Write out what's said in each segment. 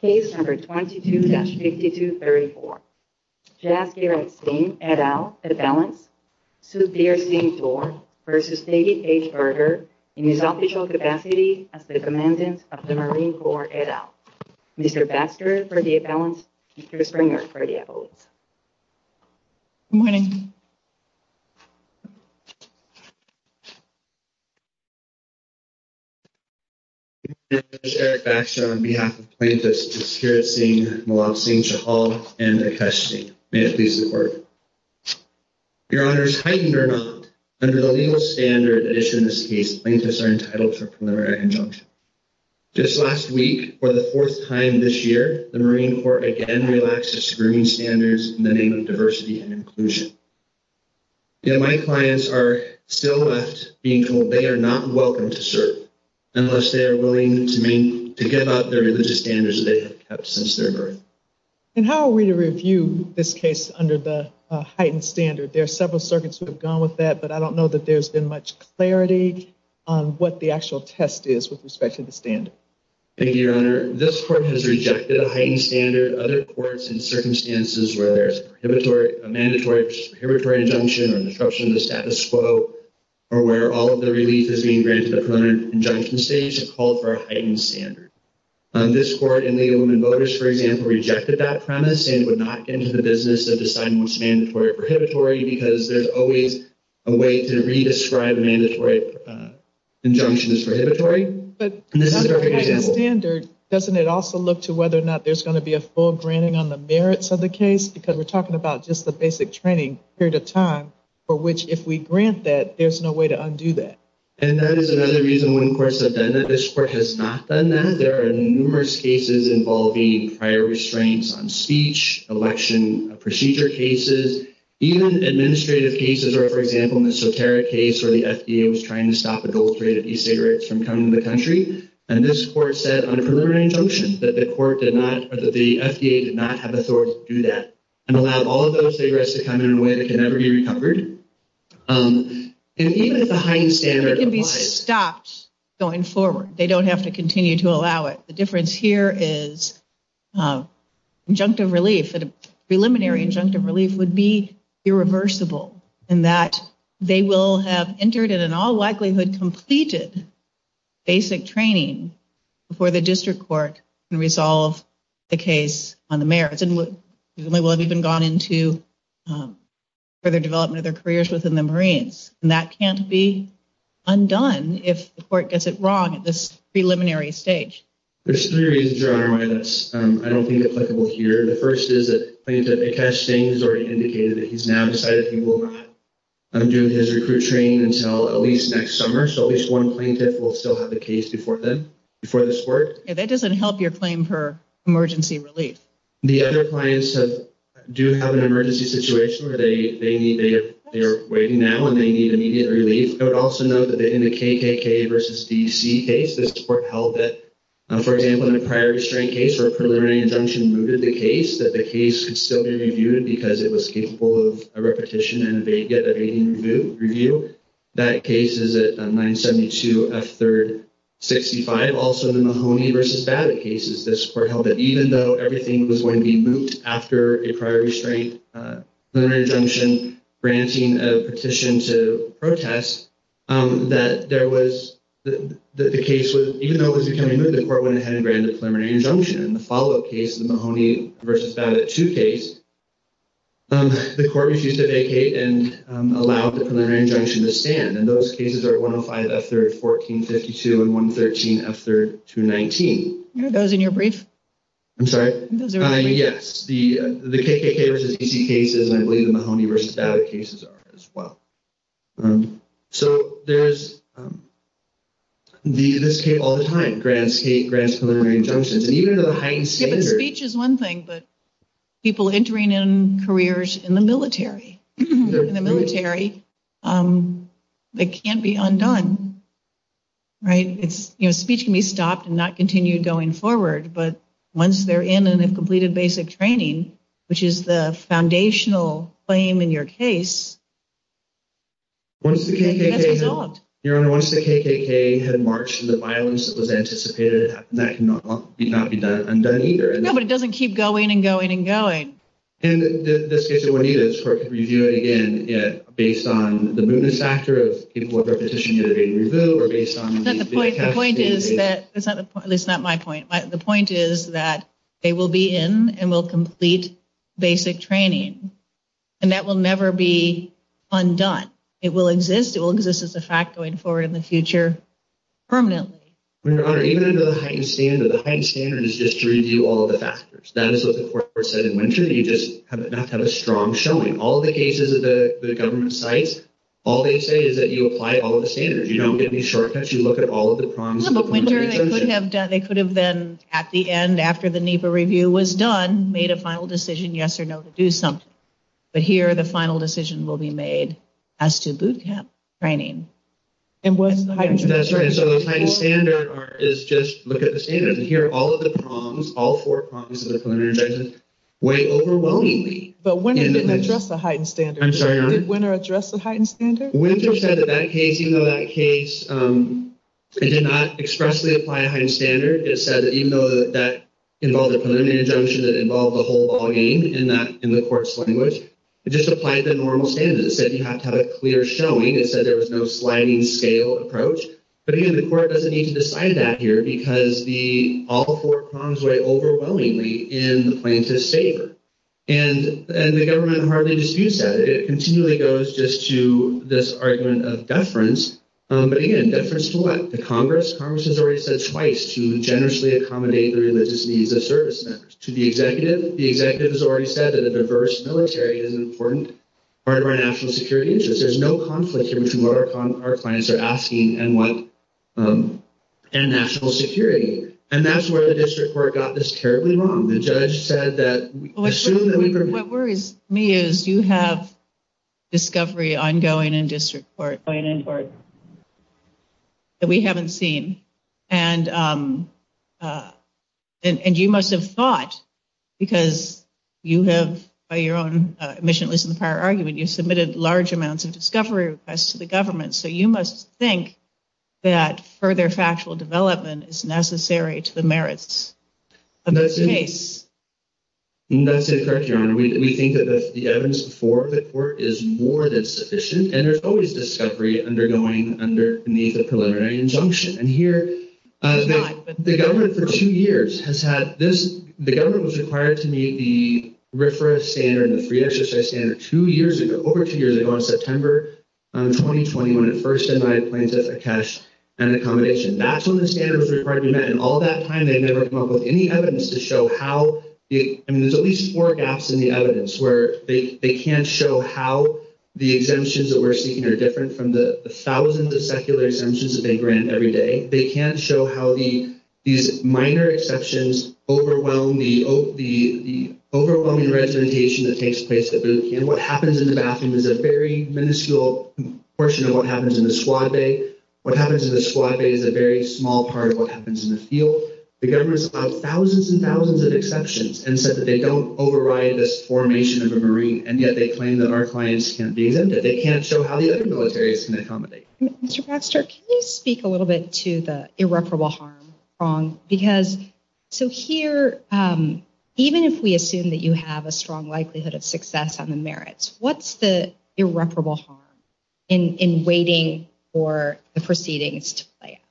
Case No. 22-5234. Jaskirat Singh et al. Avalanche, Sudhir Singh v. David H. Berger in his official capacity as the Commandant of the Marine Corps et al. Mr. Baxter for the Avalanche, Mr. Springer for the Avalanche. Good morning. Mr. Baxter, on behalf of the plaintiffs, Jaskirat Singh, Malal Singh, Shahal, and Akash Singh. May it please the Court. Your Honors, heightened or not, under the legal standard issued in this case, plaintiffs are entitled to a preliminary injunction. Just last week, for the fourth time this year, the Marine Corps again relaxed its screening standards in the name of diversity and inclusion. My clients are still left being told they are not welcome to serve unless they are willing to get out there and use the standards they have kept since their birth. And how are we to review this case under the heightened standard? There are several circuits that have gone with that, but I don't know that there has been much clarity on what the actual test is with respect to the standard. Thank you, Your Honor. This Court has rejected a heightened standard. Other courts in circumstances where there is a mandatory injunction or disruption to status quo, or where all of the relief is being granted at the preliminary injunction stage, have called for a heightened standard. This Court in the Illumined Voters, for example, rejected that premise and would not get into the business of deciding which mandatory or prohibitory because there is always a way to re-describe mandatory injunctions as prohibitory. But under the heightened standard, doesn't it also look to whether or not there is going to be a full granting on the merits of the case? Because we are talking about just the basic training period of time for which if we grant that, there is no way to undo that. And that is another reason why courts have done that. This Court has not done that. There are numerous cases involving prior restraints on speech, election procedure cases, even administrative cases. Or, for example, in the Soterra case where the FDA was trying to stop adulterated e-cigarettes from coming to the country. And this Court said on a preliminary injunction that the FDA did not have the authority to do that and allow all of those cigarettes to come in a way that can never be recovered. Even if the heightened standard applies. It can be stopped going forward. They don't have to continue to allow it. The difference here is injunctive relief, preliminary injunctive relief, would be irreversible in that they will have entered and in all likelihood completed basic training before the District Court can resolve the case on the merits. And they will have even gone into further development of their careers within the Marines. And that can't be undone if the Court gets it wrong at this preliminary stage. There's three reasons you're on our minds. I don't think it's applicable here. The first is that plaintiff, Cass James, already indicated that he's now decided he will not undo his recruit training until at least next summer. So at least one plaintiff will still have the case before then, before this Court. That doesn't help your claim for emergency relief. The other clients do have an emergency situation where they're waiting now and they need immediate relief. But also know that in the KKK versus DC case, this Court held that, for example, in the prior restraint case where a preliminary injunction moved the case, that the case could still be reviewed because it was capable of repetition and they did a review. That case is at 972 F. 3rd 65. And also in the Mahoney versus Babbitt cases, this Court held that even though everything was going to be moved after a prior restraint, preliminary injunction, granting a petition to protest, that there was – that the case would – even though it was becoming moved, the Court went ahead and granted a preliminary injunction. In the follow-up case, the Mahoney versus Babbitt 2 case, the Court refused to vacate and allowed the preliminary injunction to stand. And those cases are 105 F. 3rd 1452 and 113 F. 3rd 219. That was in your brief? I'm sorry? It was in your brief. The KKK versus DC cases and I believe the Mahoney versus Babbitt cases are as well. So there's – do you do this case all the time? Grants, hate, grants, preliminary injunctions? The speech is one thing, but people entering in careers in the military, in the military, it can't be undone, right? You know, speech can be stopped and not continued going forward. But once they're in and they've completed basic training, which is the foundational claim in your case, it can't be stopped. Your Honor, once the KKK had marched and the violence was anticipated, that cannot be undone either. No, but it doesn't keep going and going and going. In this case, it would need a review again based on the movement factor of people who have their petition to be reviewed or based on – The point is that – that's not my point. The point is that they will be in and will complete basic training, and that will never be undone. It will exist. It will exist as a fact going forward in the future permanently. Your Honor, even in the heightened standard, the heightened standard is just to review all of the factors. That is what the court said in winter. You just have to have a strong showing. All of the cases at the government site, all they say is that you apply all of the standards. You don't get any shortcuts. You look at all of the problems. No, but winter, they could have done – they could have been at the end, after the NEPA review was done, made a final decision, yes or no, to do something. But here, the final decision will be made as to boot camp training. And what is the heightened standard? That's right. So the heightened standard is just look at the standard. Here, all of the problems, all four problems of the preliminary judgment weigh overwhelmingly. But when did they address the heightened standard? I'm sorry, Your Honor? When did winter address the heightened standard? Winter said that that case, even though that case did not expressly apply a heightened standard, it said that even though that involved a preliminary judgment that involved a whole ballgame in the court's language, it just applied to normal standards. It said you have to have a clear showing. It said there was no sliding scale approach. But again, the court doesn't need to decide that here because all four problems weigh overwhelmingly in the plaintiff's favor. And the government hardly disputes that. It continually goes just to this argument of deference. But again, deference to what? The Congress? Congress has already said twice to generously accommodate the religious needs of service members. To the executive? The executive has already said that a diverse military is an important part of our national security interest. There's no conflict here between what our clients are asking and national security. And that's where the district court got this terribly wrong. What worries me is you have discovery ongoing in district court that we haven't seen. And you must have thought, because you have your own mission was in the prior argument, you submitted large amounts of discovery requests to the government, so you must think that further factual development is necessary to the merits of the case. That's correct, Your Honor. We think that the evidence before the court is more than sufficient, and there's always discovery undergoing under the preliminary injunction. And here, the government for two years has had this. The government was required to meet the RFRA standard, the free exercise standard, two years ago, over two years ago, in September 2020, when it first submitted claims of a cash and accommodation. That's when the standard was required to be met. And all that time, they haven't come up with any evidence to show how. I mean, there's at least four gaps in the evidence where they can't show how the exemptions that we're seeking are different from the thousands of secular exemptions that they grant every day. They can't show how these minor exceptions overwhelm the overwhelming representation that takes place. And what happens in the bathroom is a very minuscule portion of what happens in the suave. What happens in the suave is a very small part of what happens in the field. The government has found thousands and thousands of exceptions and said that they don't override this formation of a marine, and yet they claim that our claims can't be them, that they can't show how the other militaries can accommodate. Mr. Baxter, can you speak a little bit to the irreparable harm? Because, so here, even if we assume that you have a strong likelihood of success on the merits, what's the irreparable harm in waiting for the proceedings to play out?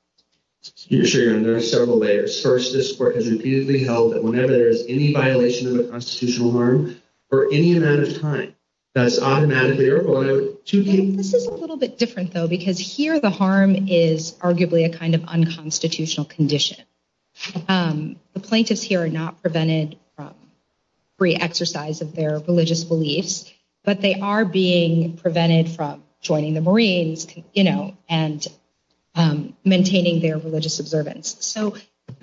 Excuse me, Sharon, there are several layers. First, this court has repeatedly held that whenever there is any violation of the constitutional norm, for any amount of time, that is automatically irreparable. This is a little bit different, though, because here the harm is arguably a kind of unconstitutional condition. The plaintiffs here are not prevented from free exercise of their religious beliefs, but they are being prevented from joining the Marines, you know, and maintaining their religious observance. So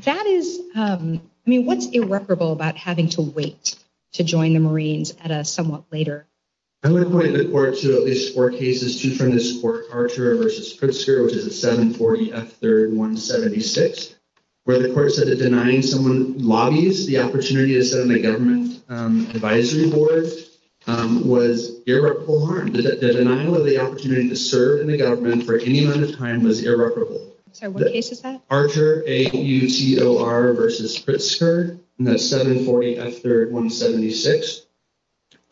that is, I mean, what's irreparable about having to wait to join the Marines at a somewhat later? I would point the court to at least four cases, two from this court, Archer v. Pritzker, which is at 740 F. 3rd 176, where the court said that denying someone lobbies, the opportunity to serve in the government advisory board, was irreparable harm. The denial of the opportunity to serve in the government for any amount of time was irreparable. Okay, what case is that? Archer, A-U-T-O-R v. Pritzker, and that's 740 F. 3rd 176.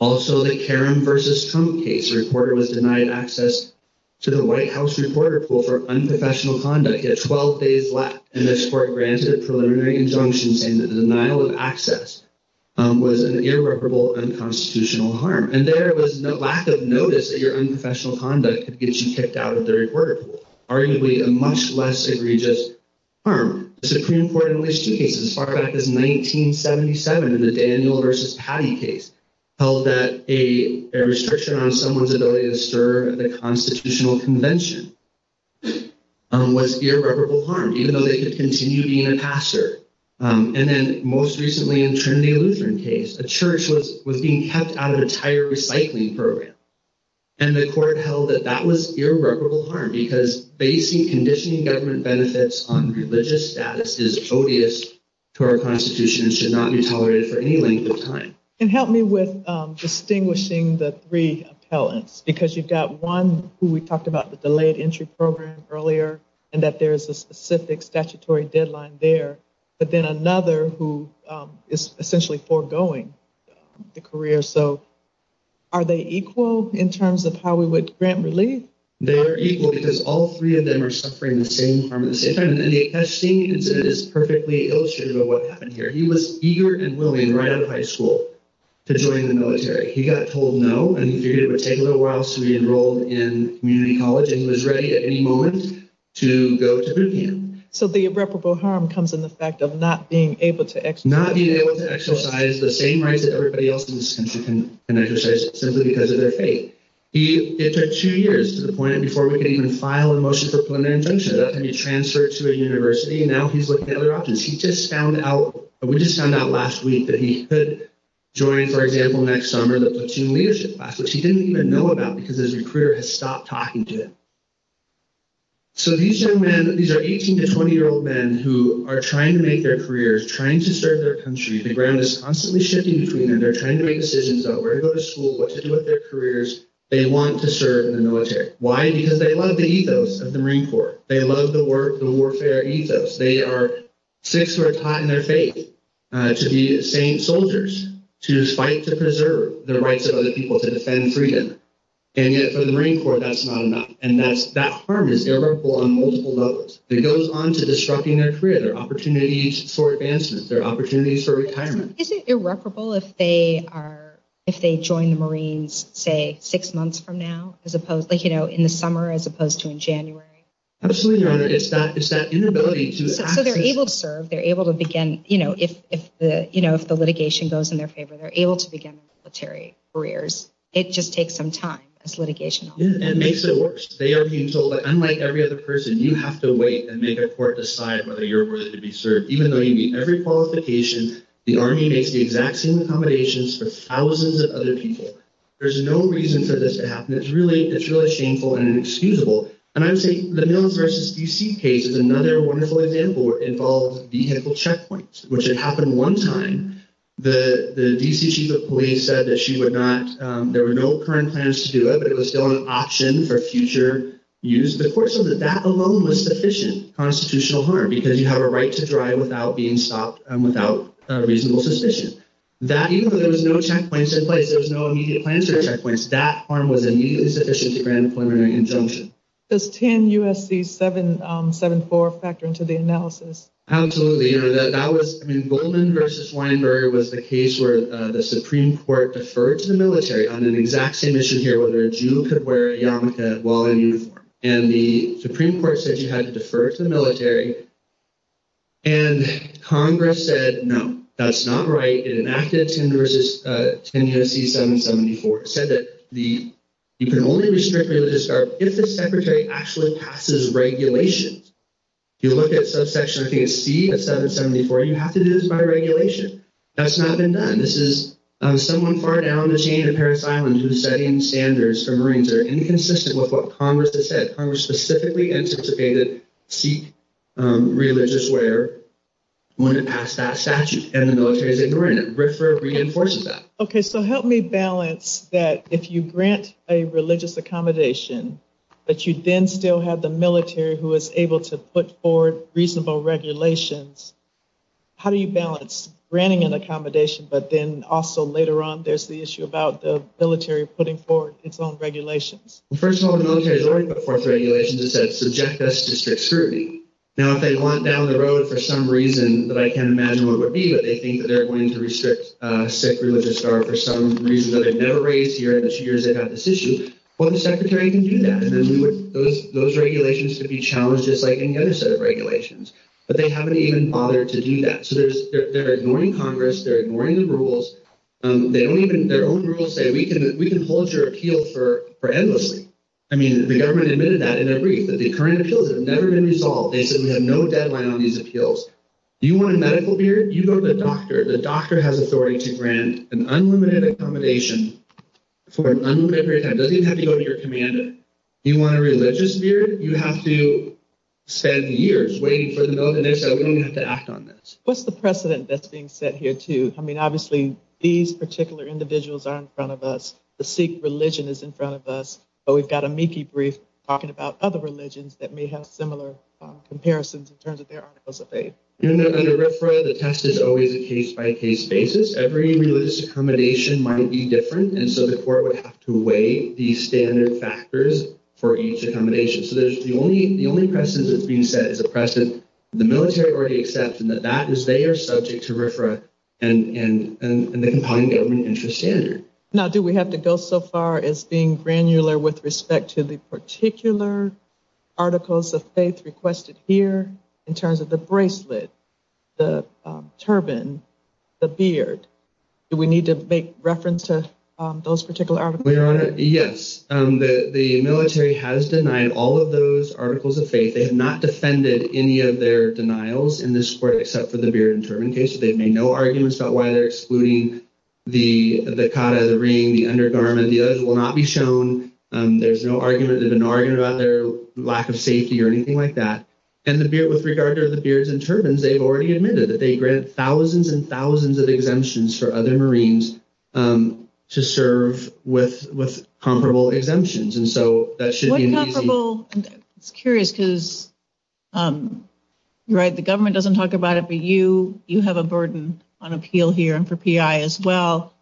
Also, the Karen v. Tome case, the reporter was denied access to the White House reporter pool for unprofessional conduct. He had 12 days left, and this court granted preliminary injunctions saying that the denial of access was an irreparable unconstitutional harm. And there was a lack of notice that your unprofessional conduct could get you kicked out of the reporter pool, arguably a much less egregious harm. The Supreme Court in the Washington case, as far back as 1977 in the Daniel v. Patty case, held that a restriction on someone's ability to serve at the constitutional convention was irreparable harm, even though they could continue being a pastor. And then most recently in the Trinity Lutheran case, a church was being kept out of a tire recycling program, and the court held that that was irreparable harm, because basically conditioning government benefits on religious status is odious to our constitution and should not be tolerated for any length of time. And help me with distinguishing the three appellants, because you've got one who we talked about, the delayed entry program earlier, and that there's a specific statutory deadline there, but then another who is essentially foregoing a career. So are they equal in terms of how we would grant relief? They are equal, because all three of them are suffering the same harm at the same time. And the Epstein incident is perfectly illustrative of what happened here. He was eager and willing right out of high school to join the military. He got told no, and he figured it would take a little while, so he enrolled in community college, and he was ready at any moment to go to Britain. So the irreparable harm comes in the fact of not being able to exercise... simply because of their faith. It took two years to the point before we could even file a motion for implementation to be transferred to a university, and now he's looking at other options. He just found out, or we just found out last week that he could join, for example, next summer the Platoon Leadership Class, which he didn't even know about, because his career had stopped talking to him. So these young men, these are 18 to 20-year-old men who are trying to make their careers, trying to serve their country. The ground is constantly shifting between them. They're trying to make decisions about where to go to school, what to do with their careers. They want to serve in the military. Why? Because they love the ethos of the Marine Corps. They love the warfare ethos. They are six words high in their faith, to be a saint soldier, to fight to preserve the rights of other people, to defend freedom. And yet for the Marine Corps, that's not enough. And that harm is irreparable on multiple levels. It goes on to disrupting their career, their opportunities for advancement, their opportunities for retirement. Isn't it irreparable if they join the Marines, say, six months from now, like in the summer as opposed to in January? Absolutely not. It's that inability to attract them. But they're able to serve. They're able to begin, you know, if the litigation goes in their favor, they're able to begin military careers. It just takes some time as litigation. It makes it worse. They are being told that unlike every other person, you have to wait and make a court decide whether you're worthy to be served, even though you meet every qualification, the Army makes the exact same accommodations for thousands of other people. There's no reason for this to happen. It's really shameful and inexcusable. And I would say the Milne v. D.C. case, another wonderful example, involved vehicle checkpoints, which had happened one time. The D.C. chief of police said that she would not ‑‑ there were no current plans to do it, but it was still an option for future use. But of course, that alone was sufficient constitutional harm because you have a right to drive without being stopped and without reasonable suspicion. Even though there was no checkpoints in place, there was no immediate plans for checkpoints, that harm was immediately sufficient to grant employment and consumption. Does 10 U.S.C. 774 factor into the analysis? Absolutely. You know, that was ‑‑ I mean, Goldman v. Weinberg was the case where the Supreme Court deferred to the military on the exact same issue here, whether a Jew could wear a yarmulke while in uniform. And the Supreme Court said you had to defer to the military and Congress said, no, that's not right. It enacted 10 U.S.C. 774. It said that you can only restrict or discard if the secretary actually passes regulations. If you look at section 15C of 774, you have to do this by regulation. That's not been done. This is someone far down the chain of Paris Islands who is setting standards for Marines. They're inconsistent with what Congress has said. Religious wear wouldn't pass that statute, and the military didn't grant it. BRFRA reinforces that. Okay, so help me balance that. If you grant a religious accommodation, but you then still have the military who is able to put forward reasonable regulations, how do you balance granting an accommodation, but then also later on there's the issue about the military putting forward its own regulations? First of all, the military has already put forth regulations that said subject us to strict scrutiny. Now, if they want down the road for some reason, but I can't imagine what it would be, but they think that they're going to restrict, restrict religious wear for some reason that they've never raised here in the years they've had this issue, well, the secretary can do that. Those regulations could be challenged just like any other set of regulations. But they haven't even bothered to do that. So they're ignoring Congress. They're ignoring the rules. Their own rules say we can hold your appeal for endlessly. I mean, the government admitted that in a brief, that the current appeal has never been resolved. They said we have no deadline on these appeals. Do you want a medical beard? Do you want the doctor? The doctor has authority to grant an unlimited accommodation for an unlimited period of time. It doesn't even have to go to your commander. Do you want a religious beard? You have to spend years waiting for the government to say, we don't have to act on this. What's the precedent that's being set here too? I mean, obviously, these particular individuals are in front of us. The Sikh religion is in front of us. But we've got a MIPI brief talking about other religions that may have similar comparisons in terms of their articles of faith. The test is always a case-by-case basis. Every religious accommodation might be different, and so the court would have to weigh the standard factors for each accommodation. So the only precedent that's being set is a precedent the military already accepts, and that is they are subject to RFRA and the Compounding Government Interest Standard. Now, do we have to go so far as being granular with respect to the particular articles of faith requested here in terms of the bracelet, the turban, the beard? Do we need to make reference to those particular articles? Yes. The military has denied all of those articles of faith. They have not defended any of their denials in this court except for the beard and turban case. They've made no arguments about why they're excluding the kata, the ring, the undergarment. The others will not be shown. There's no argument about their lack of safety or anything like that. And with regard to the beards and turbans, they've already admitted that they grant thousands and thousands of exemptions for other Marines to serve with comparable exemptions, and so that should be made clear. I'm curious because the government doesn't talk about it, but you have a burden on appeal here and for PI as well.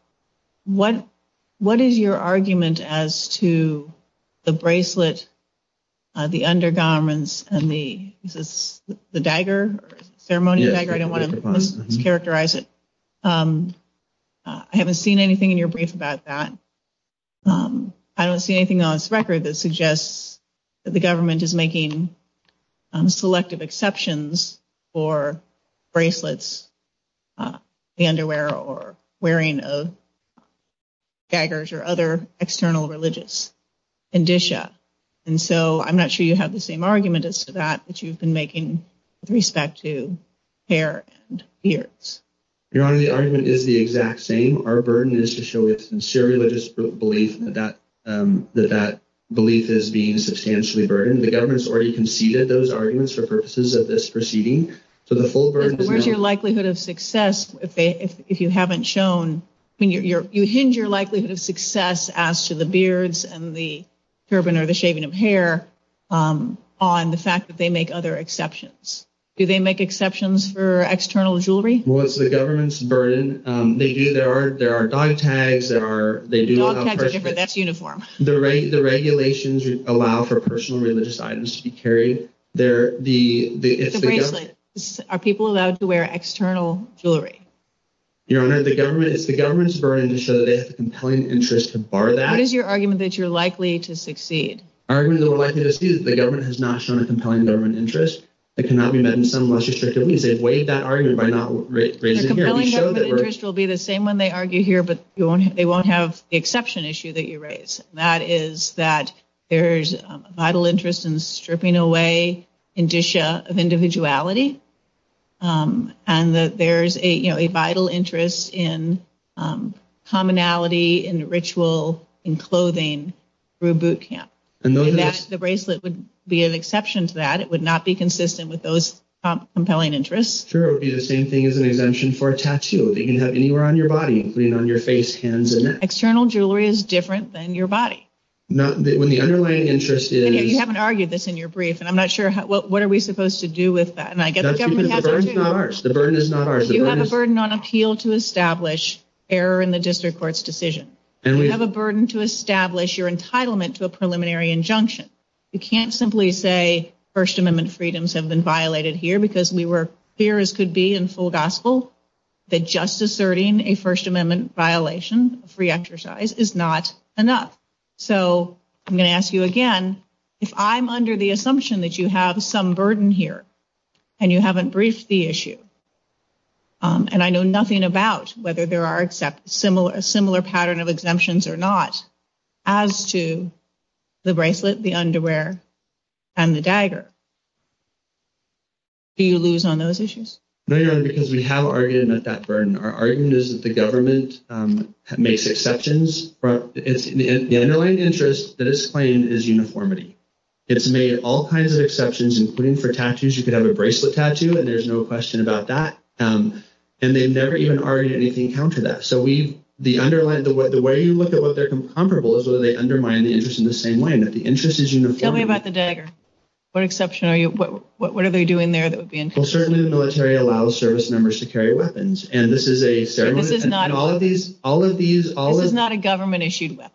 What is your argument as to the bracelet, the undergarments, and the dagger, ceremonial dagger? I don't want to characterize it. I haven't seen anything in your brief about that. I don't see anything on this record that suggests that the government is making selective exceptions for bracelets, the underwear, or wearing of daggers or other external religious indicia. And so I'm not sure you have the same argument as to that which you've been making with respect to hair and beards. Your Honor, the argument is the exact same. Our burden is to show a sincere religious belief that that belief is being substantially burdened. The government has already conceded those arguments for purposes of this proceeding. Where's your likelihood of success if you haven't shown? You hinge your likelihood of success as to the beards and the turban or the shaving of hair on the fact that they make other exceptions. Do they make exceptions for external jewelry? Well, it's the government's burden. They do. There are dog tags. Dog tags are different. That's uniform. The regulations allow for personal religious items to be carried. It's a bracelet. Are people allowed to wear external jewelry? Your Honor, it's the government's burden to show that they have a compelling interest to bar that. What is your argument that you're likely to succeed? The argument that we're likely to succeed is that the government has not shown a compelling government interest. It cannot be met in some less restrictive means. The compelling government interest will be the same when they argue here, but they won't have the exception issue that you raise, and that is that there's a vital interest in stripping away indicia of individuality, and that there's a vital interest in commonality, in ritual, in clothing through boot camp. The bracelet would be an exception to that. It would not be consistent with those compelling interests. Sure, it would be the same thing as an exemption for a tattoo. They can have anywhere on your body, including on your face, hands, and neck. External jewelry is different than your body. When the underlying interest is... You haven't argued this in your brief, and I'm not sure what are we supposed to do with that. The burden is not ours. The burden is not ours. You have a burden on appeal to establish error in the district court's decision. You have a burden to establish your entitlement to a preliminary injunction. You can't simply say First Amendment freedoms have been violated here because we were clear, as could be in full gospel, that just asserting a First Amendment violation of free exercise is not enough. So I'm going to ask you again. If I'm under the assumption that you have some burden here, and you haven't briefed the issue, and I know nothing about whether there are similar pattern of exemptions or not, as to the bracelet, the underwear, and the dagger, do you lose on those issues? No, Your Honor, because we have argued that that burden. Our argument is that the government makes exceptions. The underlying interest that is claimed is uniformity. You could have a bracelet tattoo, and there's no question about that. And they never even argue anything counter that. So the way you look at what they're comparable is where they undermine the interest in the same way, and that the interest is uniformity. Tell me about the dagger. What exception are you – what are they doing there that would be – Well, certainly the military allows service members to carry weapons, and this is a – But this is not – All of these – This is not a government-issued weapon.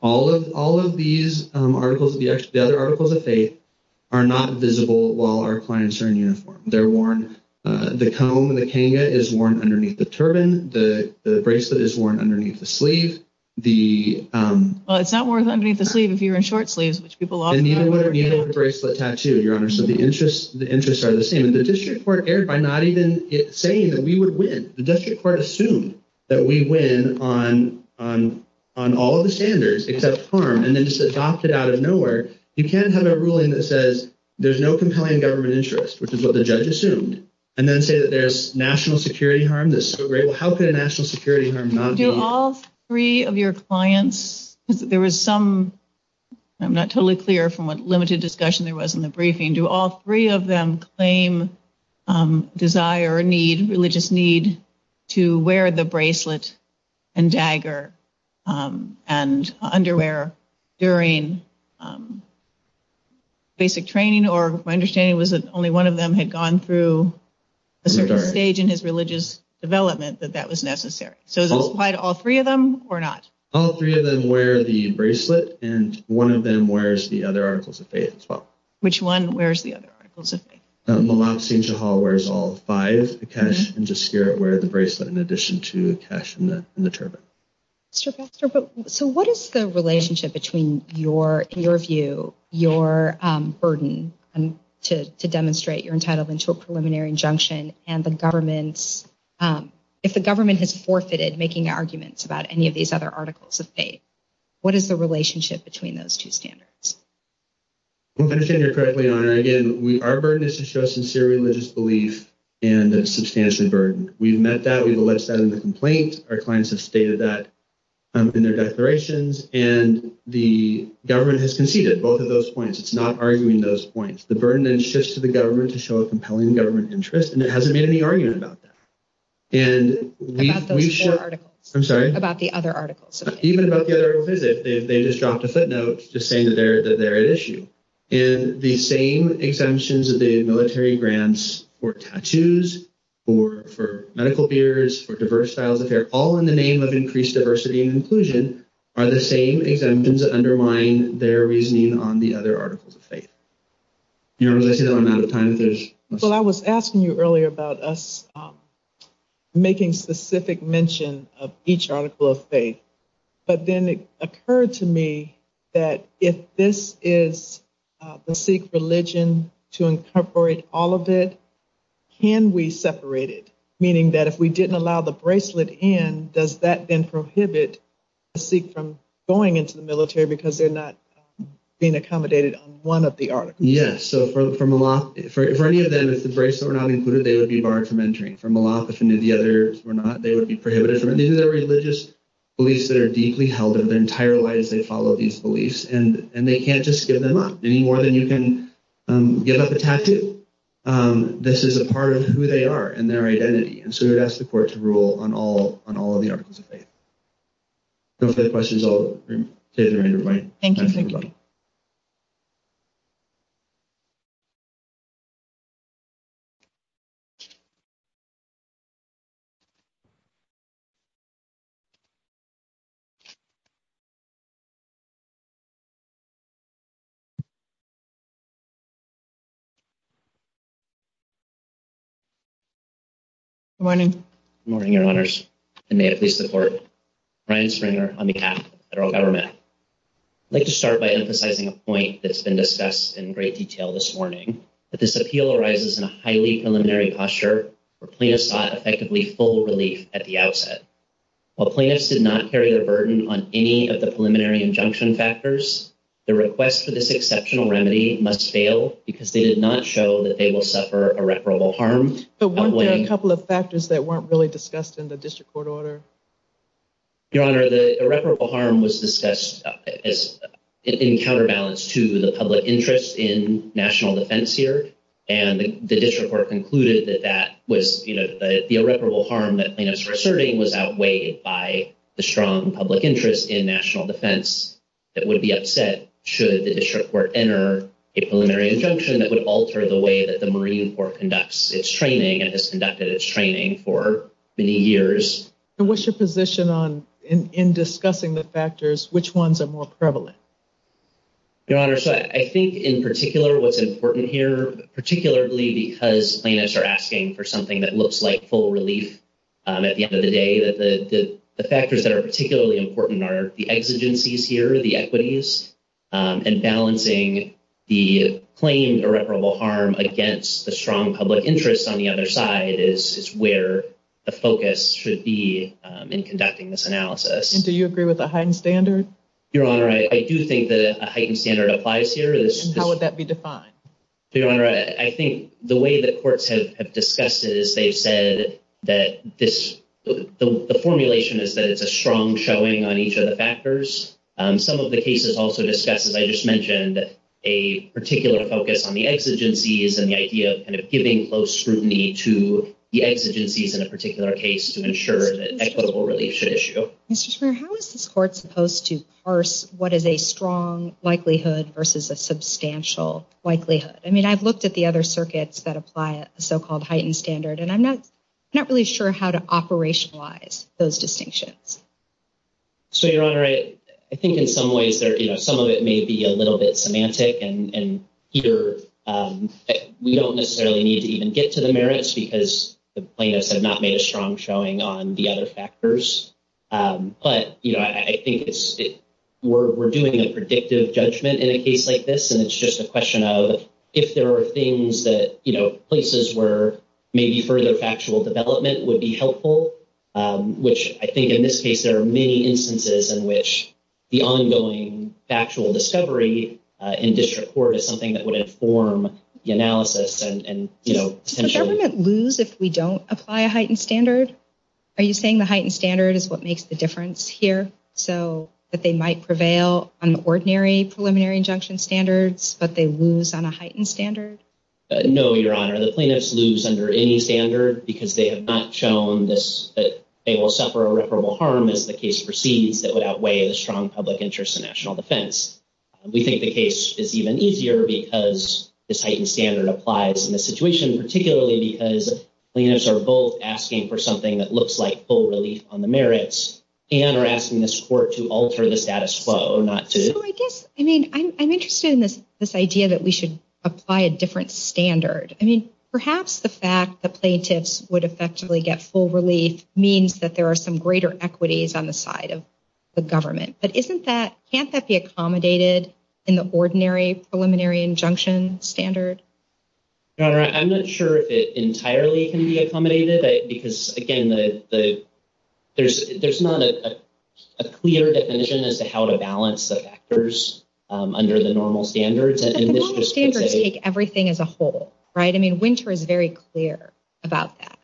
All of these articles, the other articles of faith, are not visible while our clients are in uniform. They're worn – the comb and the kanga is worn underneath the turban. The bracelet is worn underneath the sleeve. The – Well, it's not worn underneath the sleeve if you're in short sleeves, which people often – And neither would a bracelet tattoo, Your Honor. So the interests are the same. And the district court erred by not even saying that we would win. The district court assumed that we win on all of the standards except harm, and then just adopted out of nowhere. You can't have a ruling that says there's no complying government interest, which is what the judge assumed, and then say that there's national security harm that's so great. Well, how could a national security harm not be? Do all three of your clients – there was some – I'm not totally clear from what limited discussion there was in the briefing. Do all three of them claim desire or need, religious need, to wear the bracelet and dagger and underwear during basic training? Or my understanding was that only one of them had gone through a certain stage in his religious development that that was necessary. So does that apply to all three of them or not? All three of them wear the bracelet, and one of them wears the other articles of faith as well. Which one wears the other articles of faith? Malak Sainjahal wears all five. Akesh and Jaskier wear the bracelet in addition to Akesh and the turban. Mr. Foster, so what is the relationship between your view, your burden to demonstrate you're entitled to a preliminary injunction, and the government's – if the government has forfeited making arguments about any of these other articles of faith, what is the relationship between those two standards? Well, I understand you're correct, Leigh Ann. Again, our burden is to show sincere religious belief and a substantial burden. We've met that. We've alleged that in the complaint. Our clients have stated that in their declarations. And the government has conceded both of those points. It's not arguing those points. The burden then shifts to the government to show a compelling government interest, and it hasn't made any argument about that. And we – About those four articles. I'm sorry? About the other articles. Even about the other visit, they just dropped a footnote just saying that they're at issue. And the same exemptions of the military grants for tattoos, for medical beers, for diverse styles of care, all in the name of increased diversity and inclusion are the same exemptions that undermine their reasoning on the other articles of faith. I'm out of time. So I was asking you earlier about us making specific mention of each article of faith. But then it occurred to me that if this is the Sikh religion to incorporate all of it, can we separate it? Meaning that if we didn't allow the bracelet in, does that then prohibit the Sikh from going into the military because they're not being accommodated on one of the articles? Yes. So for any of them, if the bracelet were not included, they would be barred from entering. For Malak, if any of the others were not, they would be prohibited from entering. These are the religious beliefs that are deeply held in their entire lives. They follow these beliefs, and they can't just give them up. Any more than you can give up a tattoo, this is a part of who they are and their identity. And so we'd ask the court to rule on all of the articles of faith. If there are questions, I'll turn it over to everybody. Thank you. Good morning. Good morning, Your Honors, and may it please the court. Brian Springer on behalf of the federal government. I'd like to start by emphasizing a point that's been discussed in great detail this morning, that this appeal arises in a highly preliminary posture where plaintiffs sought effectively full relief at the outset. While plaintiffs did not carry the burden on any of the preliminary injunction factors, their request for this exceptional remedy must fail because they did not show that they will suffer irreparable harm. But weren't there a couple of factors that weren't really discussed in the district court order? Your Honor, the irreparable harm was discussed in counterbalance to the public interest in national defense here, and the district court concluded that that was, you know, the irreparable harm that plaintiffs were asserting was outweighed by the strong public interest in national defense that would be upset should the district court enter a preliminary injunction that would alter the way that the Marine Corps conducts its training and has conducted its training for many years. And what's your position on, in discussing the factors, which ones are more prevalent? Your Honor, so I think in particular what's important here, particularly because plaintiffs are asking for something that looks like full relief at the end of the day, that the factors that are particularly important are the exigencies here, the equities, and balancing the plain irreparable harm against the strong public interest on the other side is where the focus should be in conducting this analysis. And do you agree with a heightened standard? Your Honor, I do think that a heightened standard applies here. How would that be defined? Your Honor, I think the way that courts have discussed it is they said that this, the formulation is that it's a strong showing on each of the factors. Some of the cases also discuss, as I just mentioned, a particular focus on the exigencies and the idea of giving close scrutiny to the exigencies in a particular case to ensure that equitable relief should issue. Mr. Schwerin, how is this court supposed to parse what is a strong likelihood versus a substantial likelihood? I mean, I've looked at the other circuits that apply a so-called heightened standard, and I'm not really sure how to operationalize those distinctions. So, Your Honor, I think in some ways, you know, some of it may be a little bit semantic, and we don't necessarily need to even get to the merits because the plaintiffs have not made a strong showing on the other factors. But, you know, I think we're doing a predictive judgment in a case like this, and it's just a question of if there are things that, you know, places where maybe further factual development would be helpful, which I think in this case there are many instances in which the ongoing factual discovery in district court is something that would inform the analysis and, you know, essentially… Does the government lose if we don't apply a heightened standard? Are you saying the heightened standard is what makes the difference here, so that they might prevail on the ordinary preliminary injunction standards, but they lose on a heightened standard? No, Your Honor. The plaintiffs lose under any standard because they have not shown that they will suffer irreparable harm if the case proceeds that would outweigh a strong public interest in national defense. We think the case is even easier because this heightened standard applies in this situation, particularly because plaintiffs are both asking for something that looks like full relief on the merits and are asking this court to alter the status quo, not to… So I guess, I mean, I'm interested in this idea that we should apply a different standard. I mean, perhaps the fact that plaintiffs would effectively get full relief means that there are some greater equities on the side of the government, but isn't that…can't that be accommodated in the ordinary preliminary injunction standard? Your Honor, I'm not sure if it entirely can be accommodated because, again, there's not a clear definition as to how to balance the factors under the normal standards. Normal standards take everything as a whole, right? I mean, Winter is very clear about that.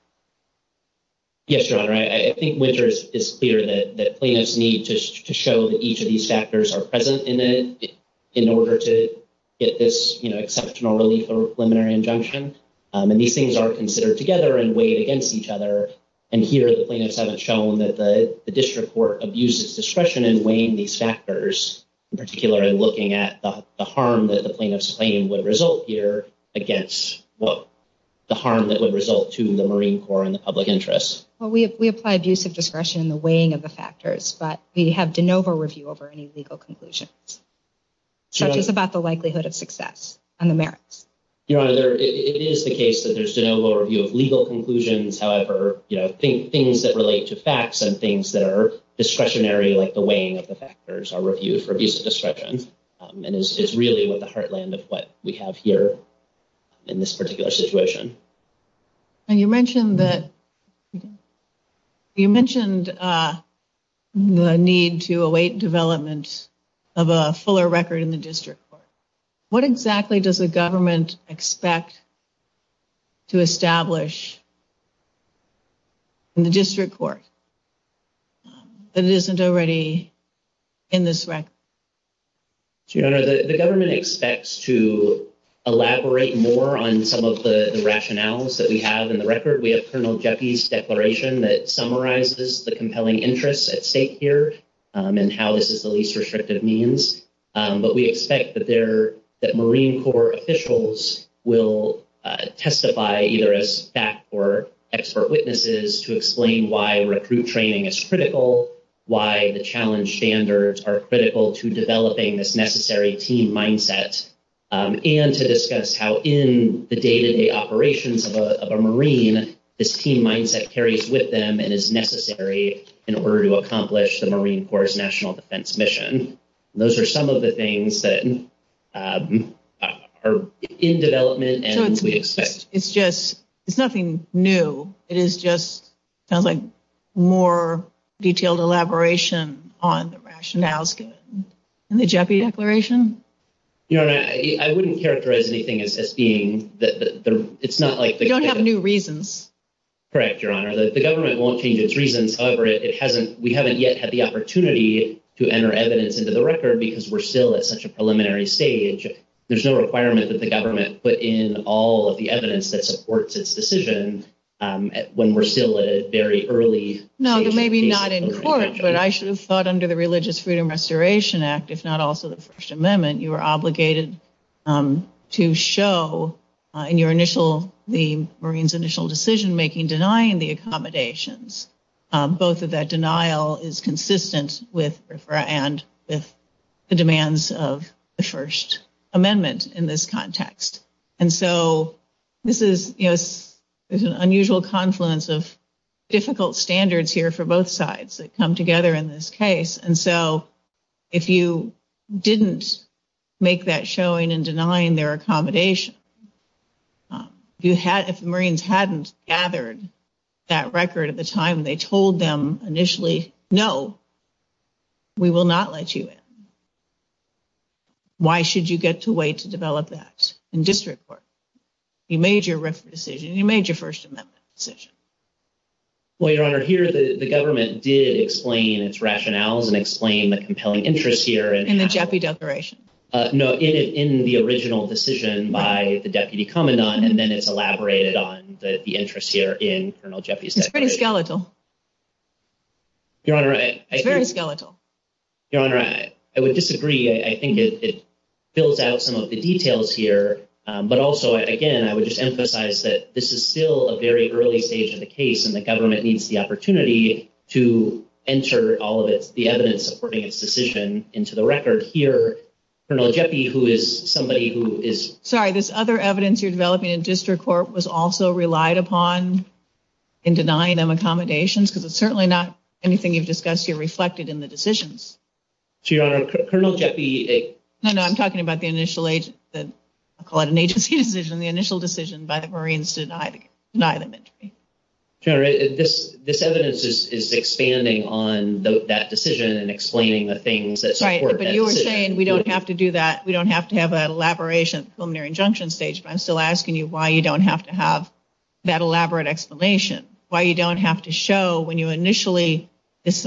Yes, Your Honor. I think Winter is clear that plaintiffs need to show that each of these factors are present in it in order to get this exceptional relief or preliminary injunction, and these things are considered together and weighed against each other, and here the plaintiffs haven't shown that the district court abuses discretion in weighing these factors, in particular in looking at the harm that the plaintiff's claim would result here against the harm that would result to the Marine Corps and the public interest. Well, we apply abuse of discretion in the weighing of the factors, but we have de novo review over any legal conclusions. That's just about the likelihood of success on the merits. Your Honor, it is the case that there's de novo review of legal conclusions. However, things that relate to facts and things that are discretionary, like the weighing of the factors, are reviewed for abuse of discretion and is really what the heartland of what we have here in this particular situation. And you mentioned the need to await development of a fuller record in the district court. What exactly does the government expect to establish in the district court that isn't already in this record? Your Honor, the government expects to elaborate more on some of the rationales that we have in the record. We have Colonel Jeffrey's declaration that summarizes the compelling interests at stake here and how this is the least restrictive means. But we expect that Marine Corps officials will testify either as staff or expert witnesses to explain why recruit training is critical, why the challenge standards are critical to developing this necessary team mindset, and to discuss how in the day-to-day operations of a Marine this team mindset carries with them and is necessary in order to accomplish the Marine Corps' national defense mission. Those are some of the things that are in development and we expect. It's nothing new. It is just more detailed elaboration on the rationales in the Jeffrey declaration? Your Honor, I wouldn't characterize anything as being that it's not like... You don't have new reasons. Correct, Your Honor. The government won't change its reasons. However, we haven't yet had the opportunity to enter evidence into the record because we're still at such a preliminary stage. There's no requirement that the government put in all of the evidence that supports its decision when we're still at a very early... No, but maybe not in court, but I should have thought under the Religious Freedom Restoration Act, if not also the First Amendment, you were obligated to show in your initial... denying the accommodations. Both of that denial is consistent with the demands of the First Amendment in this context. And so, this is an unusual confluence of difficult standards here for both sides that come together in this case. And so, if you didn't make that showing in denying their accommodation, if the Marines hadn't gathered that record at the time they told them initially, no, we will not let you in. Why should you get to wait to develop that in district court? You made your written decision. You made your First Amendment decision. Well, Your Honor, here the government did explain its rationales and explain the compelling interest here in... In the Jeffrey declaration. No, in the original decision by the Deputy Commandant, and then it's elaborated on the interest here in Colonel Jeffrey's declaration. It's pretty skeletal. Your Honor, I... Very skeletal. Your Honor, I would disagree. I think it fills out some of the details here, but also, again, I would just emphasize that this is still a very early stage of the case, and the government needs the opportunity to enter all of the evidence supporting its decision into the record here. Colonel Jeffrey, who is somebody who is... Sorry, this other evidence you're developing in district court was also relied upon in denying them accommodations? Because it's certainly not anything you've discussed here reflected in the decisions. Your Honor, Colonel Jeffrey... No, no, I'm talking about the initial... I'll call it an agency decision, the initial decision by the Marines to deny them. Your Honor, this evidence is expanding on that decision and explaining the things that support that decision. Right, but you were saying we don't have to do that, we don't have to have an elaboration at the preliminary injunction stage, but I'm still asking you why you don't have to have that elaborate explanation, why you don't have to show when you initially...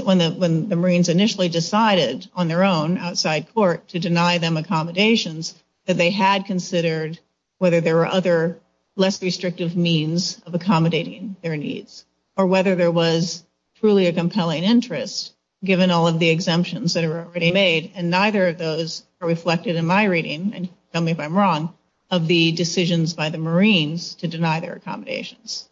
when the Marines initially decided on their own outside court to deny them accommodations that they had considered whether there were other less restrictive means of accommodating their needs, or whether there was truly a compelling interest, given all of the exemptions that were already made, and neither of those are reflected in my reading, and tell me if I'm wrong, of the decisions by the Marines to deny their accommodations.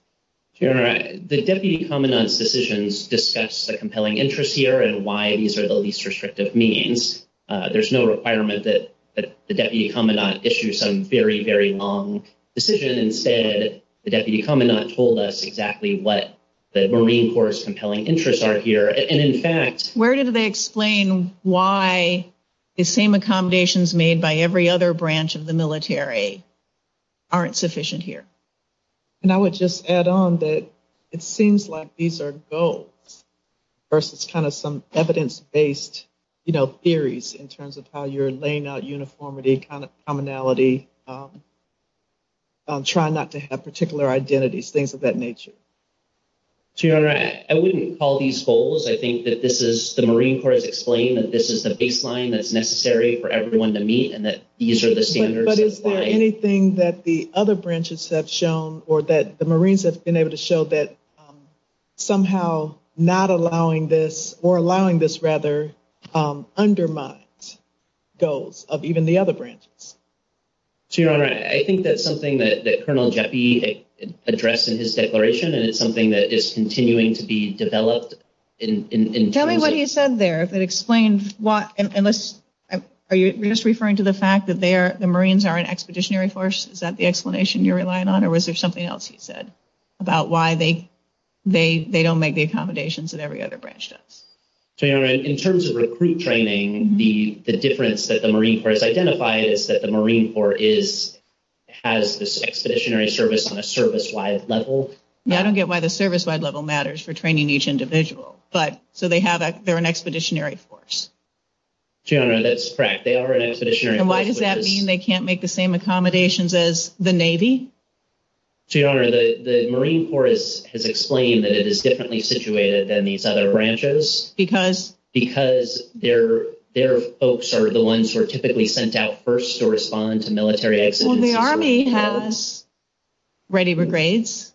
Your Honor, the Deputy Commandant's decisions discuss the compelling interest here and why these are the least restrictive means. There's no requirement that the Deputy Commandant issue some very, very long decision and say that the Deputy Commandant told us exactly what the Marine Corps' compelling interests are here, and in fact... Where did they explain why the same accommodations made by every other branch of the military aren't sufficient here? And I would just add on that it seems like these are goals in terms of how you're laying out uniformity, commonality, trying not to have particular identities, things of that nature. Your Honor, I wouldn't call these goals. I think that this is... The Marine Corps has explained that this is the baseline that's necessary for everyone to meet, and that these are the standards... But is there anything that the other branches have shown or that the Marines have been able to show that somehow not allowing this, or allowing this rather undermines goals of even the other branches? Your Honor, I think that's something that Colonel Jaffe addressed in his declaration, and it's something that is continuing to be developed in... Tell me what he said there. If it explains what... Are you just referring to the fact that the Marines are an expeditionary force? Is that the explanation you're relying on, or was there something else he said about why they don't make the accommodations that every other branch does? Your Honor, in terms of recruit training, the difference that the Marine Corps has identified is that the Marine Corps is... has this expeditionary service on a service-wide level. I don't get why the service-wide level matters for training each individual, but so they have a... They're an expeditionary force. Your Honor, that's correct. They are an expeditionary force. And why does that mean they can't make the same accommodations as the Navy? Your Honor, the Marine Corps has explained that it is differently situated than these other branches... Because? ...because their folks are the ones who are typically sent out first to respond to military expeditions. Well, the Army has ready for grades.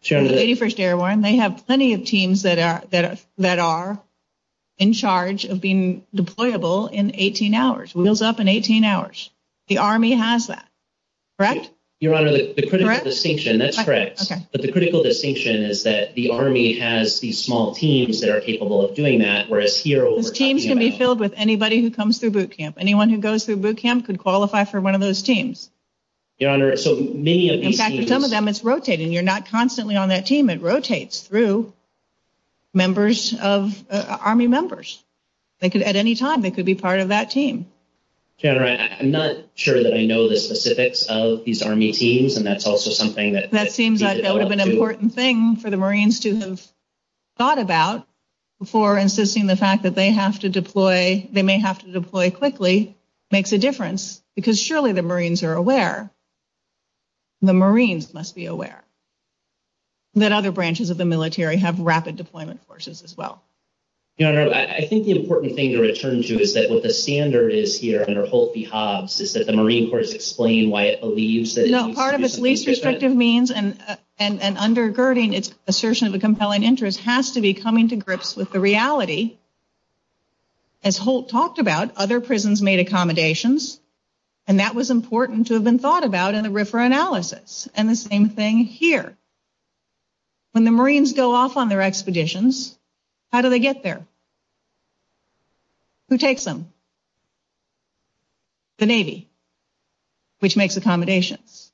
Sure. They have plenty of teams that are in charge of being deployable in 18 hours, wheels up in 18 hours. The Army has that, correct? Your Honor, the critical distinction, that's correct. Okay. But the critical distinction is that the Army has these small teams that are capable of doing that, whereas here... Teams can be filled with anybody who comes through boot camp. Anyone who goes through boot camp could qualify for one of those teams. Your Honor, so many of these teams... In fact, some of them, it's rotating. You're not constantly on that team. It rotates through members of Army members. At any time, they could be part of that team. Your Honor, I'm not sure that I know the specifics of these Army teams, and that's also something that... That seems like that would have been an important thing for the Marines to have thought about before insisting the fact that they may have to deploy quickly makes a difference because surely the Marines are aware. The Marines must be aware that other branches of the military have rapid deployment forces as well. Your Honor, I think the important thing to return to is that what the standard is here under Holt v. Hobbs is that the Marine Corps is explaining why it believes that... No, part of its least restrictive means and undergirding its assertion of a compelling interest has to be coming to grips with the reality. As Holt talked about, other prisons made accommodations, and that was important to have been thought about in the RFRA analysis. And the same thing here. When the Marines go off on their expeditions, how do they get there? Who takes them? The Navy, which makes accommodations.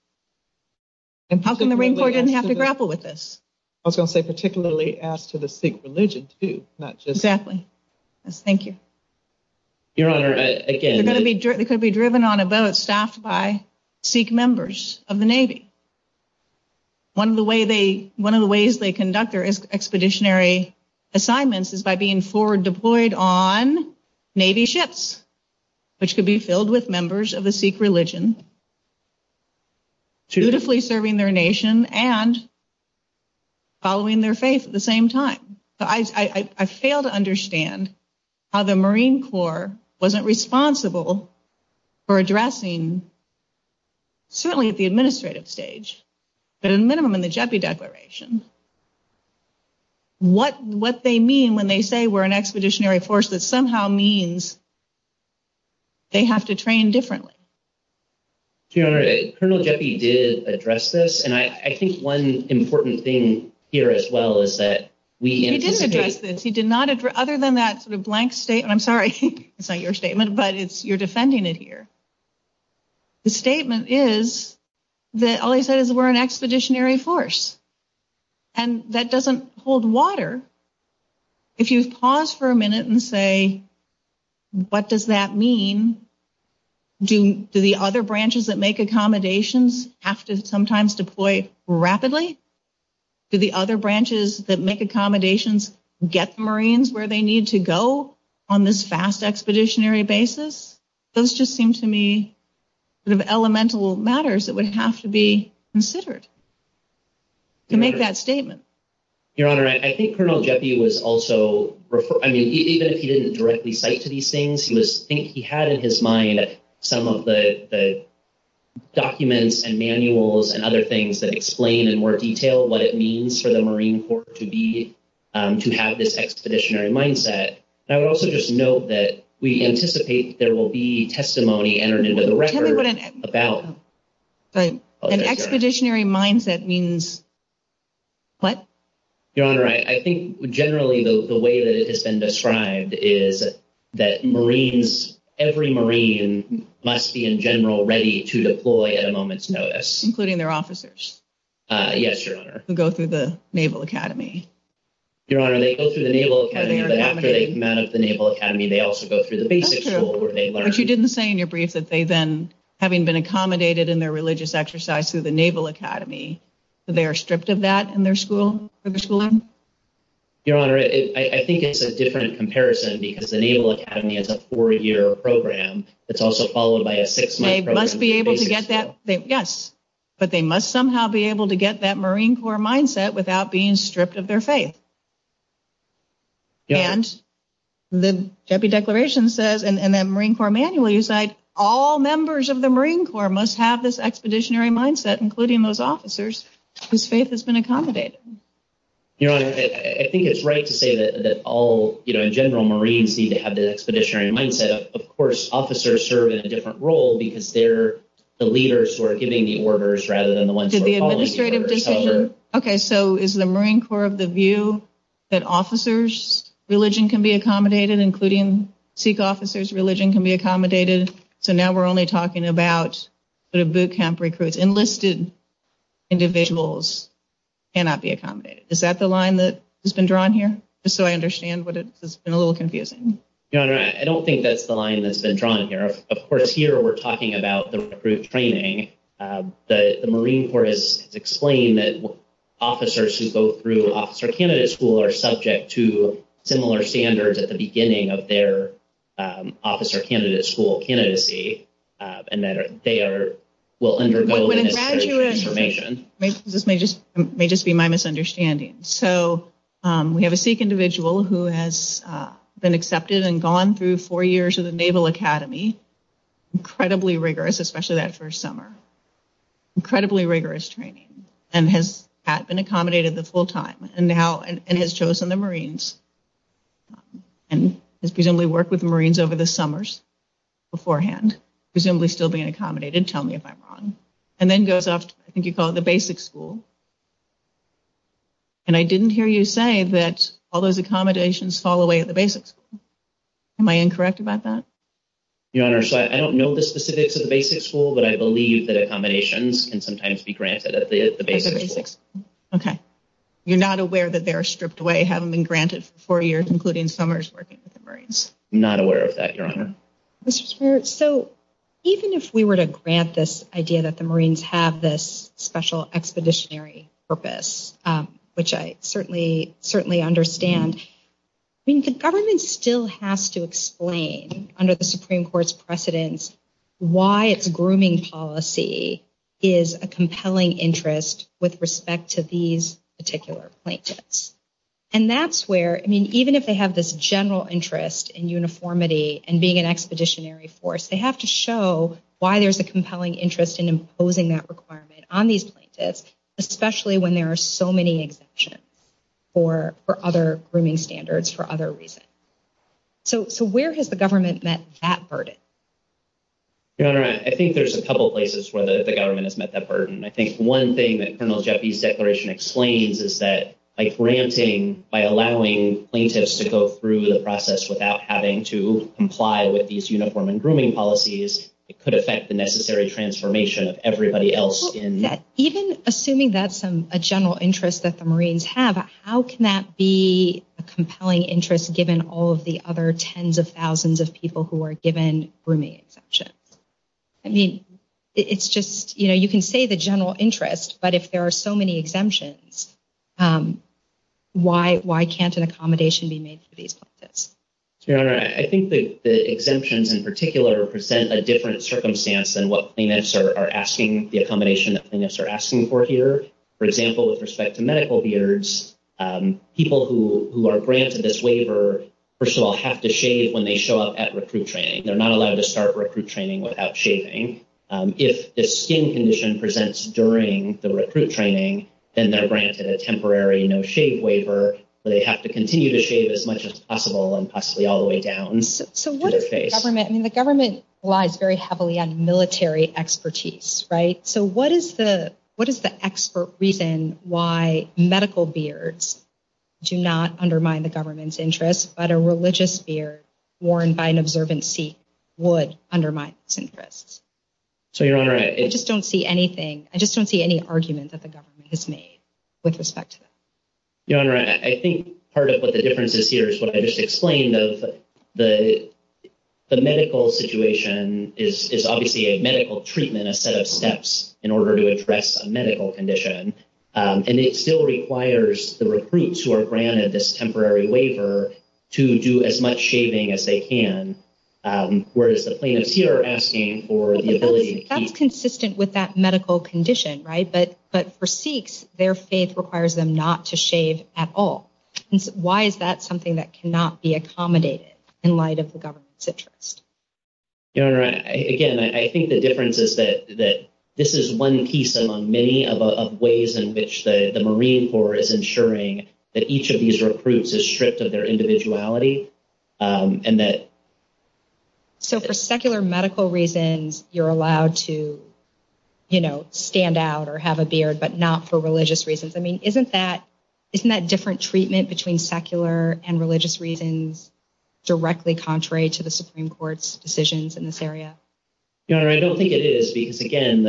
How come the Marine Corps doesn't have to grapple with this? I was going to say particularly as to the Sikh religion too, not just... Exactly. Thank you. Your Honor, again... One of the ways they conduct their expeditionary assignments is by being forward deployed on Navy ships, which could be filled with members of the Sikh religion, dutifully serving their nation and following their faith at the same time. I fail to understand how the Marine Corps wasn't responsible for addressing, certainly at the administrative stage, but at a minimum in the JEPI declaration, what they mean when they say we're an expeditionary force that somehow means they have to train differently. Your Honor, Colonel JEPI did address this, and I think one important thing here as well is that we anticipate... He did address this. Other than that sort of blank statement, I'm sorry, it's not your statement, but you're defending it here. The statement is that all he said is we're an expeditionary force, and that doesn't hold water. If you pause for a minute and say, what does that mean? Do the other branches that make accommodations have to sometimes deploy rapidly? Do the other branches that make accommodations get Marines where they need to go on this fast expeditionary basis? Those just seem to me sort of elemental matters that would have to be considered to make that statement. Your Honor, I think Colonel JEPI was also... I mean, even if he didn't directly cite to these things, he had in his mind some of the documents and manuals and other things that explain in more detail what it means for the Marine Corps to have this expeditionary mindset. I would also just note that we anticipate there will be testimony entered into the record about... An expeditionary mindset means what? Your Honor, I think generally the way that it has been described is that Marines, every Marine must be in general ready to deploy at a moment's notice. Including their officers. Yes, Your Honor. Go through the Naval Academy. Your Honor, they go through the Naval Academy, but after they come out of the Naval Academy, they also go through the basic school where they learn. But you didn't say in your brief that they then, having been accommodated in their religious exercise through the Naval Academy, that they are stripped of that in their schooling? Your Honor, I think it's a different comparison because the Naval Academy is a four-year program. It's also followed by a six-month program. They must be able to get that, yes. But they must somehow be able to get that Marine Corps mindset without being stripped of their faith. And the Deputy Declaration says, and the Marine Corps manual, it's like all members of the Marine Corps must have this expeditionary mindset, including those officers whose faith has been accommodated. Your Honor, I think it's right to say that all general Marines need to have that expeditionary mindset. Of course, officers serve in a different role because they're the leaders who are giving the orders rather than the ones who are calling the orders. Okay, so is the Marine Corps of the view that officers' religion can be accommodated, including Sikh officers' religion can be accommodated? So now we're only talking about the boot camp recruits. Enlisted individuals cannot be accommodated. Is that the line that has been drawn here? Just so I understand, but it's been a little confusing. Your Honor, I don't think that's the line that's been drawn here. Of course, here we're talking about the recruit training. The Marine Corps has explained that officers who go through Officer Candidate School are subject to similar standards at the beginning of their Officer Candidate School candidacy and that they will undergo the information. This may just be my misunderstanding. So we have a Sikh individual who has been accepted and gone through four years of the Naval Academy, incredibly rigorous, especially that first summer, incredibly rigorous training, and has been accommodated the full time and has chosen the Marines and has presumably worked with the Marines over the summers beforehand, presumably still being accommodated. Tell me if I'm wrong. And then goes off to, I think you call it the Basic School. And I didn't hear you say that all those accommodations fall away at the Basic School. Am I incorrect about that? Your Honor, I don't know the specifics of the Basic School, but I believe that accommodations can sometimes be granted at the Basic School. Okay. You're not aware that they're stripped away, haven't been granted for four years, including summers working with the Marines? Not aware of that, Your Honor. So even if we were to grant this idea that the Marines have this special expeditionary purpose, which I certainly understand, I mean, the government still has to explain under the Supreme Court's precedence why its grooming policy is a compelling interest with respect to these particular plaintiffs. And that's where, I mean, even if they have this general interest in uniformity and being an expeditionary force, they have to show why there's a compelling interest in imposing that requirement on these plaintiffs, especially when there are so many exemptions for other grooming standards for other reasons. So where has the government met that burden? Your Honor, I think there's a couple places where the government has met that burden. I think one thing that Colonel Jaffee's declaration explains is that by granting, by allowing plaintiffs to go through the process without having to comply with these uniform and grooming policies, it could affect the necessary transformation of everybody else in that. Even assuming that's a general interest that the Marines have, how can that be a compelling interest given all of the other tens of thousands of people who are given grooming exemptions? I mean, it's just, you know, you can say the general interest, but if there are so many exemptions, why can't an accommodation be made for these plaintiffs? Your Honor, I think the exemptions in particular represent a different circumstance than what plaintiffs are asking the accommodation that plaintiffs are asking for here. For example, with respect to medical beards, people who are granted this waiver, first of all, have to shave when they show up at recruit training. They're not allowed to start recruit training without shaving. If the skin condition presents during the recruit training, then they're granted a temporary no-shave waiver, so they have to continue to shave as much as possible and possibly all the way down. So what does the government... I mean, the government relies very heavily on military expertise, right? So what is the expert reason why medical beards do not undermine the government's interests, but a religious beard worn by an observant Sikh would undermine its interests? So, Your Honor... I just don't see anything. I just don't see any argument that the government has made with respect to this. Your Honor, I think part of what the difference is here is what I just explained, that the medical situation is obviously a medical treatment, a set of steps in order to address a medical condition, and it still requires the recruits who are granted this temporary waiver to do as much shaving as they can, whereas the plaintiffs here are asking for the ability... That's consistent with that medical condition, right? But for Sikhs, their faith requires them not to shave at all. Why is that something that cannot be accommodated in light of the government's interests? Your Honor, again, I think the difference is that this is one piece among many of ways in which the Marine Corps is ensuring that each of these recruits is stripped of their individuality, and that... So for secular medical reasons, you're allowed to, you know, stand out or have a beard, but not for religious reasons. I mean, isn't that different treatment between secular and religious reasons directly contrary to the Supreme Court's decisions in this area? Your Honor, I don't think it is, because, again,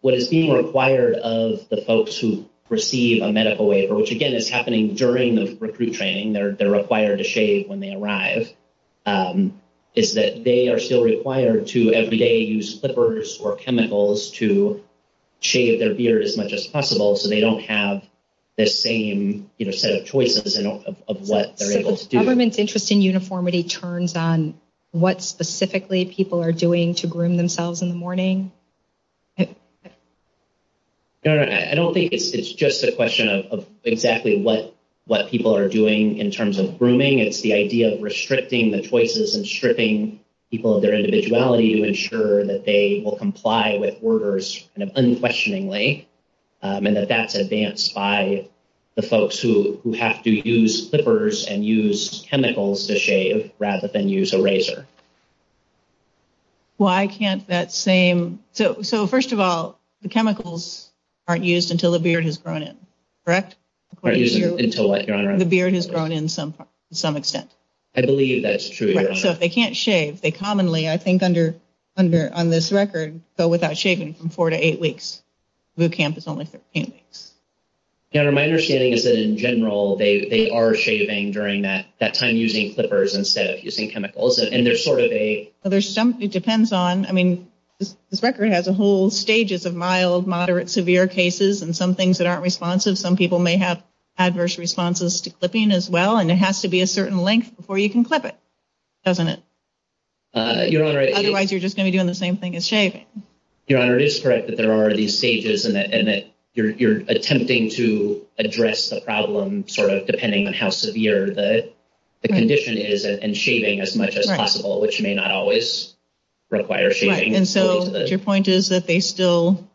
what is being required of the folks who receive a medical waiver, which, again, is happening during the recruit training, they're required to shave when they arrive, is that they are still required to, every day, use slippers or chemicals to shave their beard as much as possible so they don't have the same, you know, set of choices of what they're able to do. Do you think the government's interest in uniformity turns on what specifically people are doing to groom themselves in the morning? Your Honor, I don't think it's just a question of exactly what people are doing in terms of grooming. It's the idea of restricting the choices and stripping people of their individuality to ensure that they will comply with orders unquestioningly, and that that's advanced by the folks who have to use slippers and use chemicals to shave rather than use a razor. Well, I can't... So, first of all, the chemicals aren't used until the beard has grown in, correct? Aren't used until what, Your Honor? The beard has grown in to some extent. I believe that's true, Your Honor. So if they can't shave, they commonly, I think, on this record, go without shaving from 4 to 8 weeks. Boot camp is only 15 weeks. Your Honor, my understanding is that, in general, they are shaving during that time using clippers instead of using chemicals, and there's sort of a... Well, there's some... It depends on... I mean, this record has a whole stages of mild, moderate, severe cases and some things that aren't responsive. Some people may have adverse responses to clipping as well, and it has to be a certain length before you can clip it, doesn't it? Otherwise, you're just going to be doing the same thing as shaving. Your Honor, it is correct that there are these stages and that you're attempting to address the problem sort of depending on how severe the condition is and shaving as much as possible, which may not always require shaving. Right, and so your point is that they still...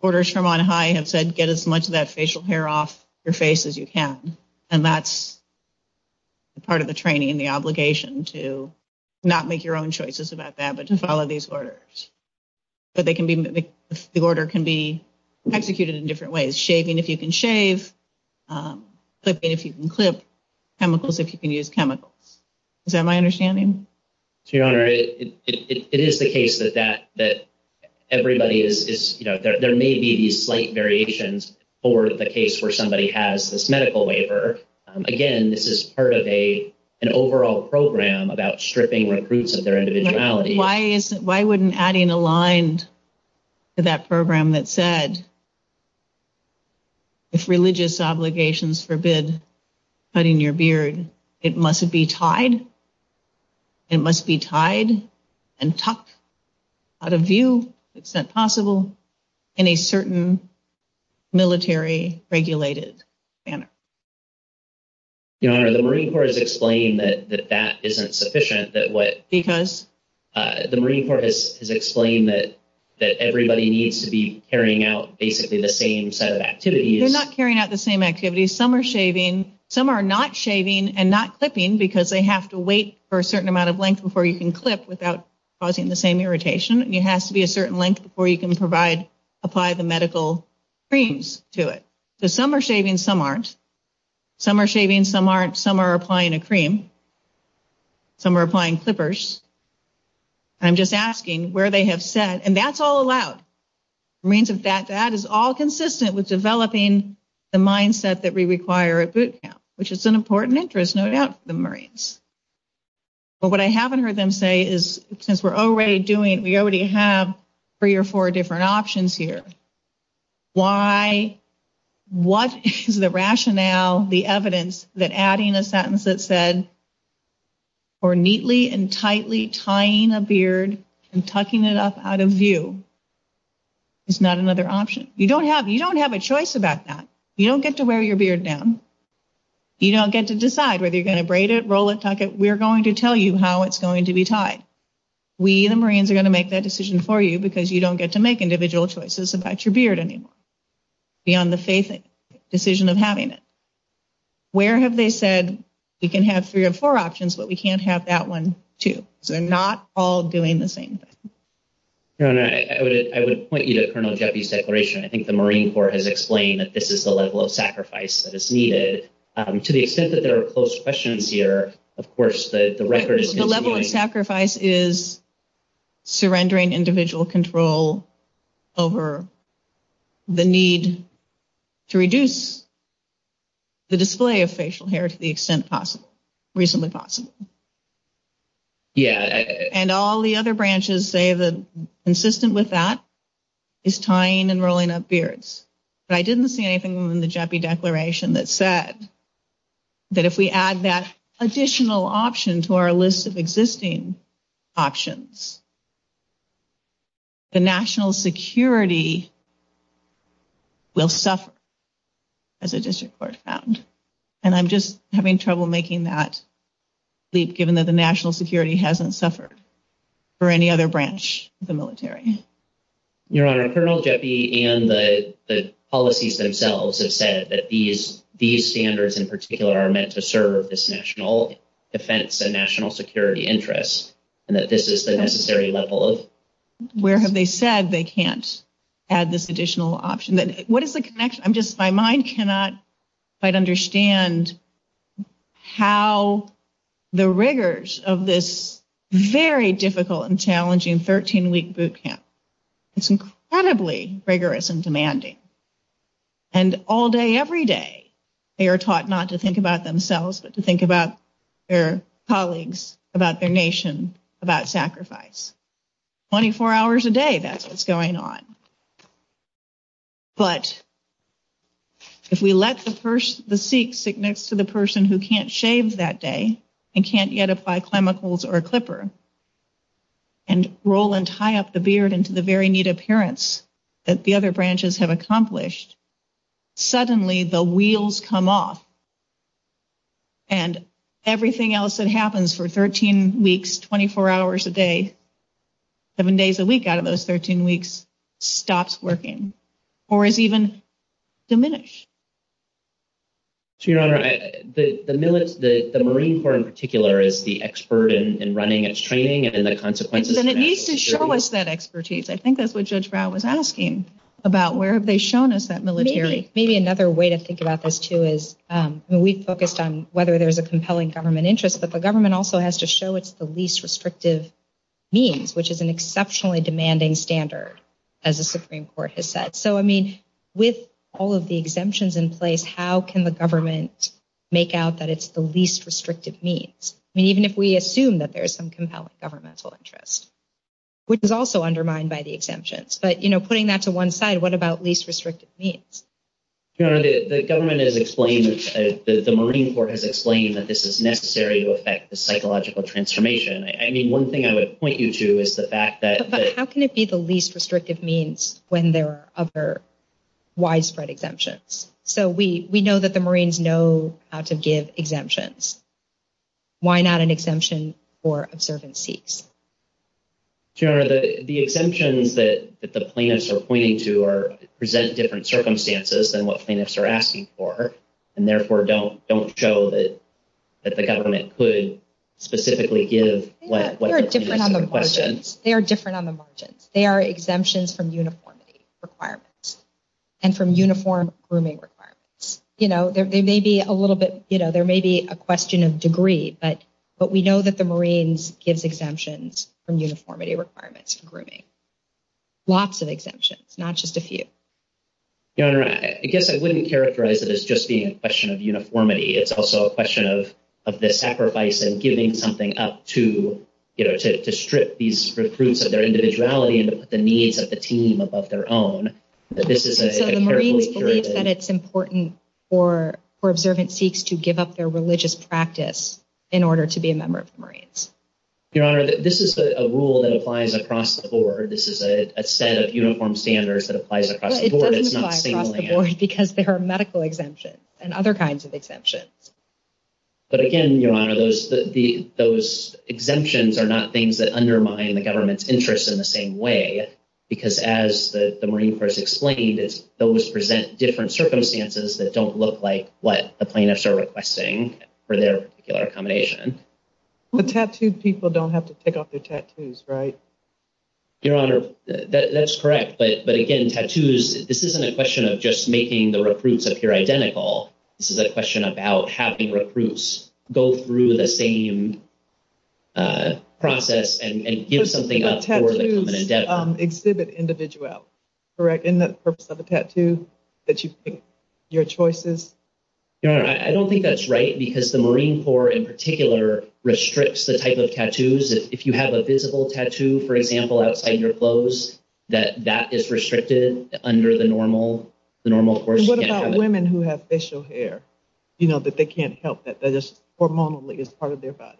Orders from on high have said get as much of that facial hair off your face as you can, and that's part of the training and the obligation to not make your own choices about that but to follow these orders. But they can be... The order can be executed in different ways. Shaving if you can shave, clipping if you can clip, chemicals if you can use chemicals. Is that my understanding? Your Honor, it is the case that everybody is... You know, there may be these slight variations for the case where somebody has this medical waiver. Again, this is part of an overall program about stripping recruits of their individuality. Why wouldn't adding a line to that program that said if religious obligations forbid cutting your beard, it must be tied? It must be tied and tucked out of view to the extent possible in a certain military-regulated manner? Your Honor, the Marine Corps has explained that that isn't sufficient. Because? The Marine Corps has explained that everybody needs to be carrying out basically the same set of activities. They're not carrying out the same activities. Some are shaving. Some are not shaving and not clipping because they have to wait for a certain amount of length before you can clip without causing the same irritation. It has to be a certain length before you can apply the medical creams to it. So some are shaving, some aren't. Some are shaving, some aren't. Some are applying a cream. Some are applying clippers. I'm just asking where they have said, and that's all allowed. Marines, in fact, that is all consistent with developing the mindset that we require at boot camp, which is an important interest, no doubt, for the Marines. But what I haven't heard them say is since we're already doing it, we already have three or four different options here. Why, what is the rationale, the evidence, that adding a sentence that said, or neatly and tightly tying a beard and tucking it up out of view is not another option? You don't have a choice about that. You don't get to wear your beard down. You don't get to decide whether you're going to braid it, roll it, tuck it. We're going to tell you how it's going to be tied. We, the Marines, are going to make that decision for you because you don't get to make individual choices about your beard anymore beyond the decision of having it. Where have they said, we can have three or four options, but we can't have that one, too? So they're not all doing the same thing. I would point you to Colonel Jeffy's declaration. I think the Marine Corps has explained that this is the level of sacrifice that is needed. To the extent that there are closed questions here, of course, the record is... The level of sacrifice is surrendering individual control over the need to reduce the display of facial hair to the extent possible, reasonably possible. Yeah. And all the other branches say that consistent with that is tying and rolling up beards. But I didn't see anything in the Jeffy declaration that said that if we add that additional option to our list of existing options, the national security will suffer, as the district court found. And I'm just having trouble making that leap given that the national security hasn't suffered for any other branch of the military. Your Honor, Colonel Jeffy and the policies themselves have said that these standards in particular are meant to serve this national defense and national security interest and that this is the necessary level of... Where have they said they can't add this additional option? What is the connection? I'm just... My mind cannot quite understand how the rigors of this very difficult and challenging 13-week boot camp. It's incredibly rigorous and demanding. And all day, every day, they are taught not to think about themselves but to think about their colleagues, about their nation, about sacrifice. 24 hours a day, that's what's going on. But if we let the Sikh sit next to the person who can't shave that day and can't yet apply chemicals or a clipper and roll and tie up the beard into the very neat appearance that the other branches have accomplished, suddenly the wheels come off and everything else that happens for 13 weeks, 24 hours a day, seven days a week out of those 13 weeks stops working or is even diminished. So, Your Honor, the Marine Corps in particular is the expert in running its training and the consequences... And it needs to show us that expertise. I think that's what Judge Brown was asking about where have they shown us that military... Maybe another way to think about this too is we've focused on whether there's a compelling government interest, but the government also has to show it's the least restrictive means, which is an exceptionally demanding standard, as the Supreme Court has said. So, I mean, with all of the exemptions in place, how can the government make out that it's the least restrictive means? I mean, even if we assume that there's some compelling governmental interest, which is also undermined by the exemptions. But, you know, putting that to one side, what about least restrictive means? Your Honor, the government has explained... The Marine Corps has explained that this is necessary to affect the psychological transformation. I mean, one thing I would point you to is the fact that... But how can it be the least restrictive means when there are other widespread exemptions? So, we know that the Marines know how to give exemptions. Why not an exemption for observant seats? Your Honor, the exemptions that the plaintiffs are pointing to present different circumstances than what plaintiffs are asking for, and therefore don't show that the government could specifically give... They are different on the margins. They are different on the margins. They are exemptions from uniformity requirements and from uniform grooming requirements. You know, there may be a little bit... You know, there may be a question of degree, but we know that the Marines gives exemptions from uniformity requirements for grooming. Lots of exemptions, not just a few. Your Honor, I guess I wouldn't characterize it as just being a question of uniformity. It's also a question of the sacrifice and giving something up to, you know, to strip these recruits of their individuality and put the needs of the team above their own. This is a carefully curated... So, the Marines believe that it's important for observant seats to give up their religious practice in order to be a member of the Marines. Your Honor, this is a rule that applies across the board. This is a set of uniform standards that applies across the board. It doesn't apply across the board because there are medical exemptions and other kinds of exemptions. But again, Your Honor, those exemptions are not things that undermine the government's interest in the same way because, as the Marine Corps has explained, those present different circumstances that don't look like what the plaintiffs are requesting for their particular accommodation. The tattooed people don't have to take off their tattoos, right? Your Honor, that's correct, but again, tattoos, this isn't a question of just making the recruits appear identical. This is a question about having recruits go through the same process and give something up for the common endeavor. Tattoos exhibit individuals, correct, in the purpose of the tattoo, that you think your choice is? Your Honor, I don't think that's right because the Marine Corps, in particular, restricts the type of tattoos that if you have a visible tattoo, for example, outside your clothes, that that is restricted under the normal course of tattooing. And what about women who have facial hair, you know, that they can't help that, that it's hormonally part of their body?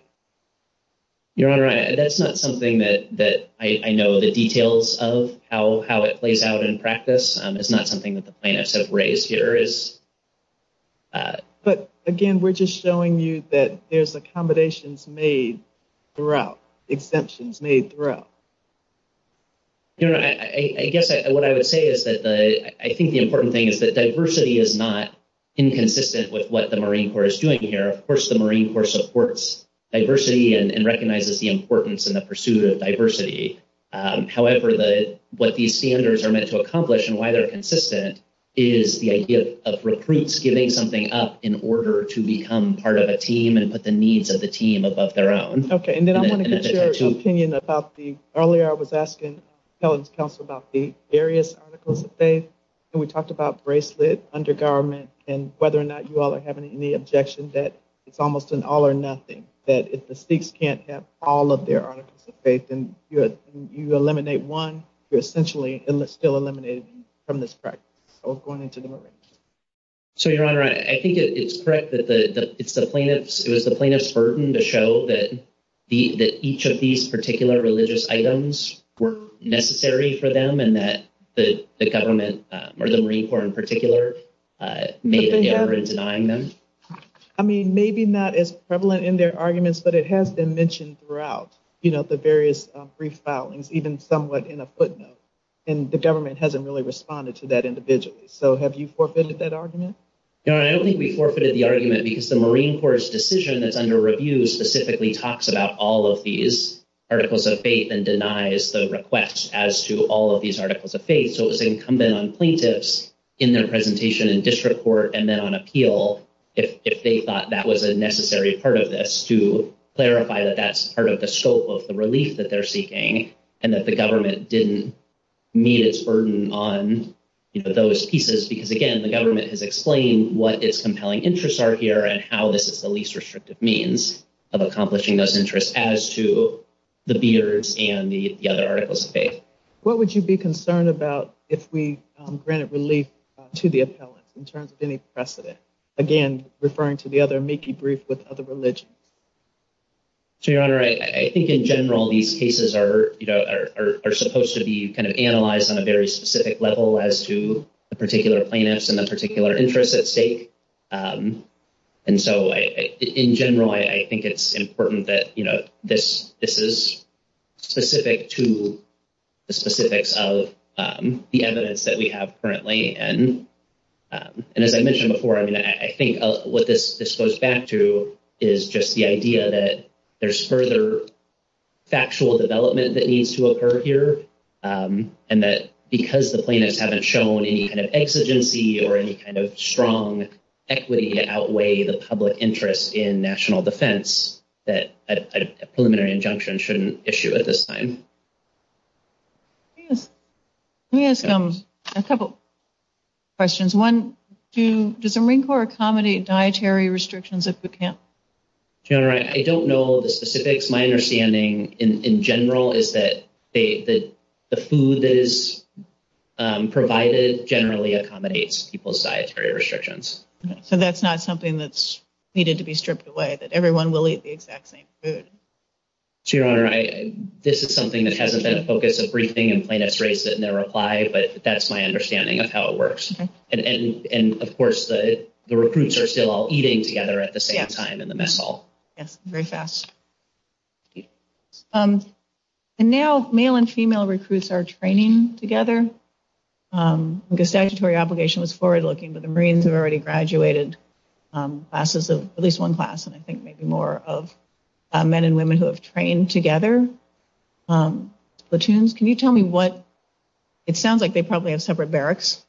Your Honor, that's not something that I know the details of, how it plays out in practice. It's not something that the plaintiffs have raised here. But again, we're just showing you that there's accommodations made throughout, exemptions made throughout. Your Honor, I guess what I would say is that I think the important thing is that diversity is not inconsistent with what the Marine Corps is doing here. Of course, the Marine Corps supports diversity and recognizes the importance in the pursuit of diversity. However, what these standards are meant to accomplish and why they're consistent is the idea of recruits giving something up in order to become part of a team and put the needs of the team above their own. Okay, and then I wanted to share your opinion about the... Earlier, I was asking the appellant's counsel about the various articles of faith, and we talked about bracelet, undergarment, and whether or not you all are having any objection that it's almost an all-or-nothing, that if the Sikhs can't have all of their articles of faith, then you eliminate one, you're essentially still eliminating from this practice or going into the Marines. So, Your Honor, I think it's correct that it's the plaintiff's... to show that each of these particular religious items were necessary for them and that the government, or the Marine Corps in particular, may have been denying them. I mean, maybe not as prevalent in their arguments, but it has been mentioned throughout, you know, the various brief filings, even somewhat in a footnote, and the government hasn't really responded to that individually. Your Honor, I don't think we forfeited the argument because the Marine Corps' decision that's under review specifically talks about all of these articles of faith and denies the request as to all of these articles of faith, so it's incumbent on plaintiffs in their presentation and district court and then on appeal if they thought that was a necessary part of this to clarify that that's part of the scope of the relief that they're seeking and that the government didn't meet its burden on, you know, those pieces because, again, the government is explaining what its compelling interests are here and how this is the least restrictive means of accomplishing those interests as to the beers and the other articles of faith. What would you be concerned about if we granted relief to the appellant in terms of any precedent? Again, referring to the other amici brief with other religions. So, Your Honor, I think in general these cases are, you know, are supposed to be kind of analyzed on a very specific level as to a particular plaintiff and a particular interest at stake, and so in general I think it's important that, you know, this is specific to the specifics of the evidence that we have currently and as I mentioned before, I mean, I think what this goes back to is just the idea that there's further factual development that needs to occur here and that because the plaintiffs haven't shown any kind of exigency or any kind of strong equity to outweigh the public interest in national defense that a preliminary injunction shouldn't issue at this time. Let me ask them a couple questions. One, does the Marine Corps accommodate dietary restrictions at boot camp? Your Honor, I don't know the specifics. My understanding in general is that the food that is provided generally accommodates people's dietary restrictions. So that's not something that's needed to be stripped away, that everyone will eat the exact same food. Your Honor, this is something that hasn't been a focus of briefing and plaintiffs raised it in their reply, but that's my understanding of how it works. And of course, the recruits are still all eating together at the same time in the mess hall. Yes, very fast. And now, male and female recruits are training together. The statutory obligation was forward-looking, but the Marines have already graduated classes of, at least one class, and I think maybe more, of men and women who have trained together. Platoons, can you tell me what, it sounds like they probably have separate barracks,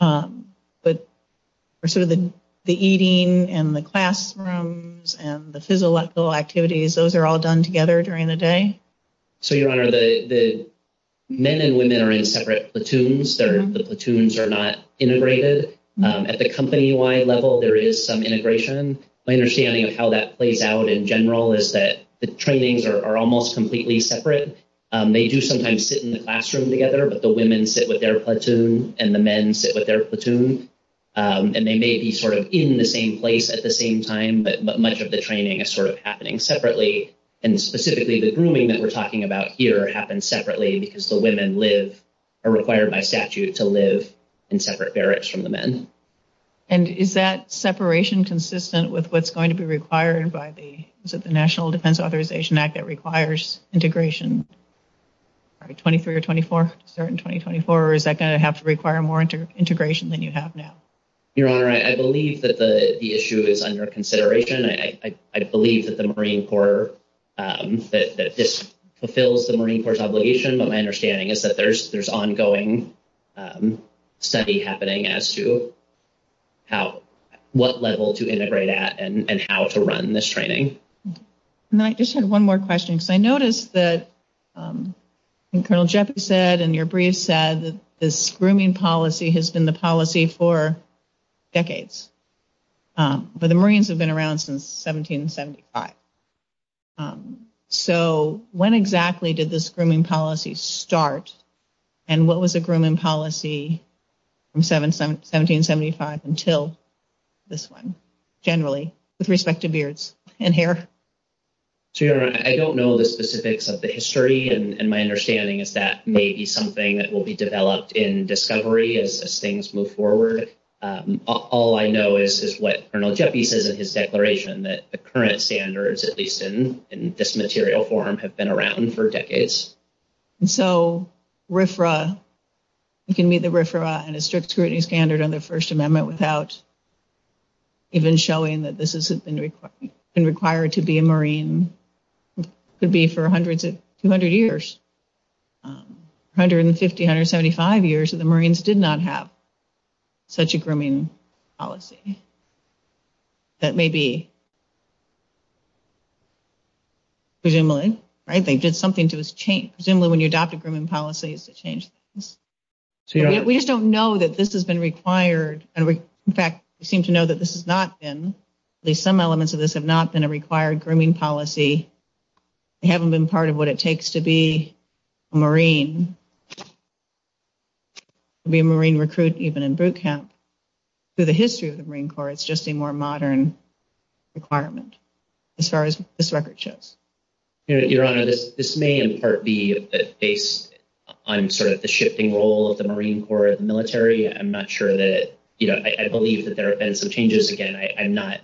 but for sort of the eating and the classrooms and the physical activities, those are all done together during the day? So, Your Honor, the men and women are in separate platoons or the platoons are not integrated. At the company-wide level, there is some integration. My understanding of how that plays out in general is that the trainings are almost completely separate. They do sometimes sit in the classroom together, but the women sit with their platoon and the men sit with their platoon. And they may be sort of in the same place at the same time, but much of the training is sort of happening separately. And specifically, the grooming that we're talking about here happens separately because the women live, or are required by statute, to live in separate barracks from the men. And is that separation consistent with what's going to be required by the National Defense Authorization Act that requires integration? All right, 23 or 24? Is that in 2024, or is that going to have to require more integration than you have now? Your Honor, I believe that the issue is under consideration. I believe that the Marine Corps, that this fulfills the Marine Corps' obligation. My understanding is that there's ongoing study happening as to how, what level to integrate at and how to run this training. And I just had one more question because I noticed that Colonel Jeffries said in your brief said that this grooming policy has been the policy for decades. But the Marines have been around since 1775. So when exactly did this grooming policy start? And what was the grooming policy from 1775 until this one, generally, with respect to beards and hair? Your Honor, I don't know the specifics of the history. And my understanding is that may be something that will be developed in discovery as things move forward. All I know is what Colonel Jeffries says in his declaration that the current standards, at least in this material form, have been around for decades. And so RFRA, you can meet the RFRA and the strict scrutiny standard on the First Amendment without even showing that this has been required to be a Marine, could be for 100 to 200 years. 150, 175 years of the Marines did not have such a grooming policy. That may be... Presumably, right? They did something to this change. Presumably, when you adopt a grooming policy, it's a change. We just don't know that this has been required. In fact, we seem to know that this has not been. At least some elements of this have not been a required grooming policy. They haven't been part of what it takes to be a Marine. To be a Marine recruit even in boot camp. So the history of the Marine Corps is just a more modern requirement as far as this record shows. Your Honor, this may in part be based on sort of the shifting role of the Marine Corps in the military. I'm not sure that... You know, I believe that there have been some changes. Again, I'm not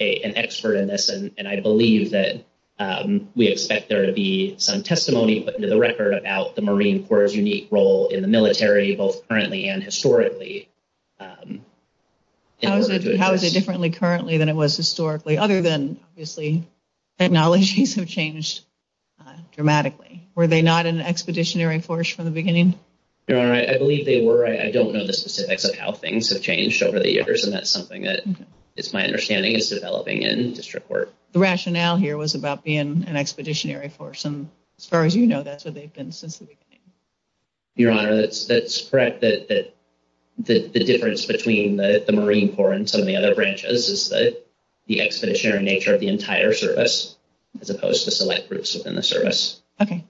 an expert in this, and I believe that we expect there to be some testimony put into the record about the Marine Corps' unique role in the military, both currently and historically. How is it differently currently than it was historically? Other than, obviously, technologies have changed dramatically. Were they not an expeditionary force from the beginning? Your Honor, I believe they were. I don't know the specifics of how things have changed over the years, and that's something that it's my understanding is developing in district work. The rationale here was about being an expeditionary force, and as far as you know, that's what they've been since the beginning. Your Honor, that's correct that the difference between the Marine Corps and some of the other branches is the expeditionary nature of the entire service as opposed to select groups within the service. Okay.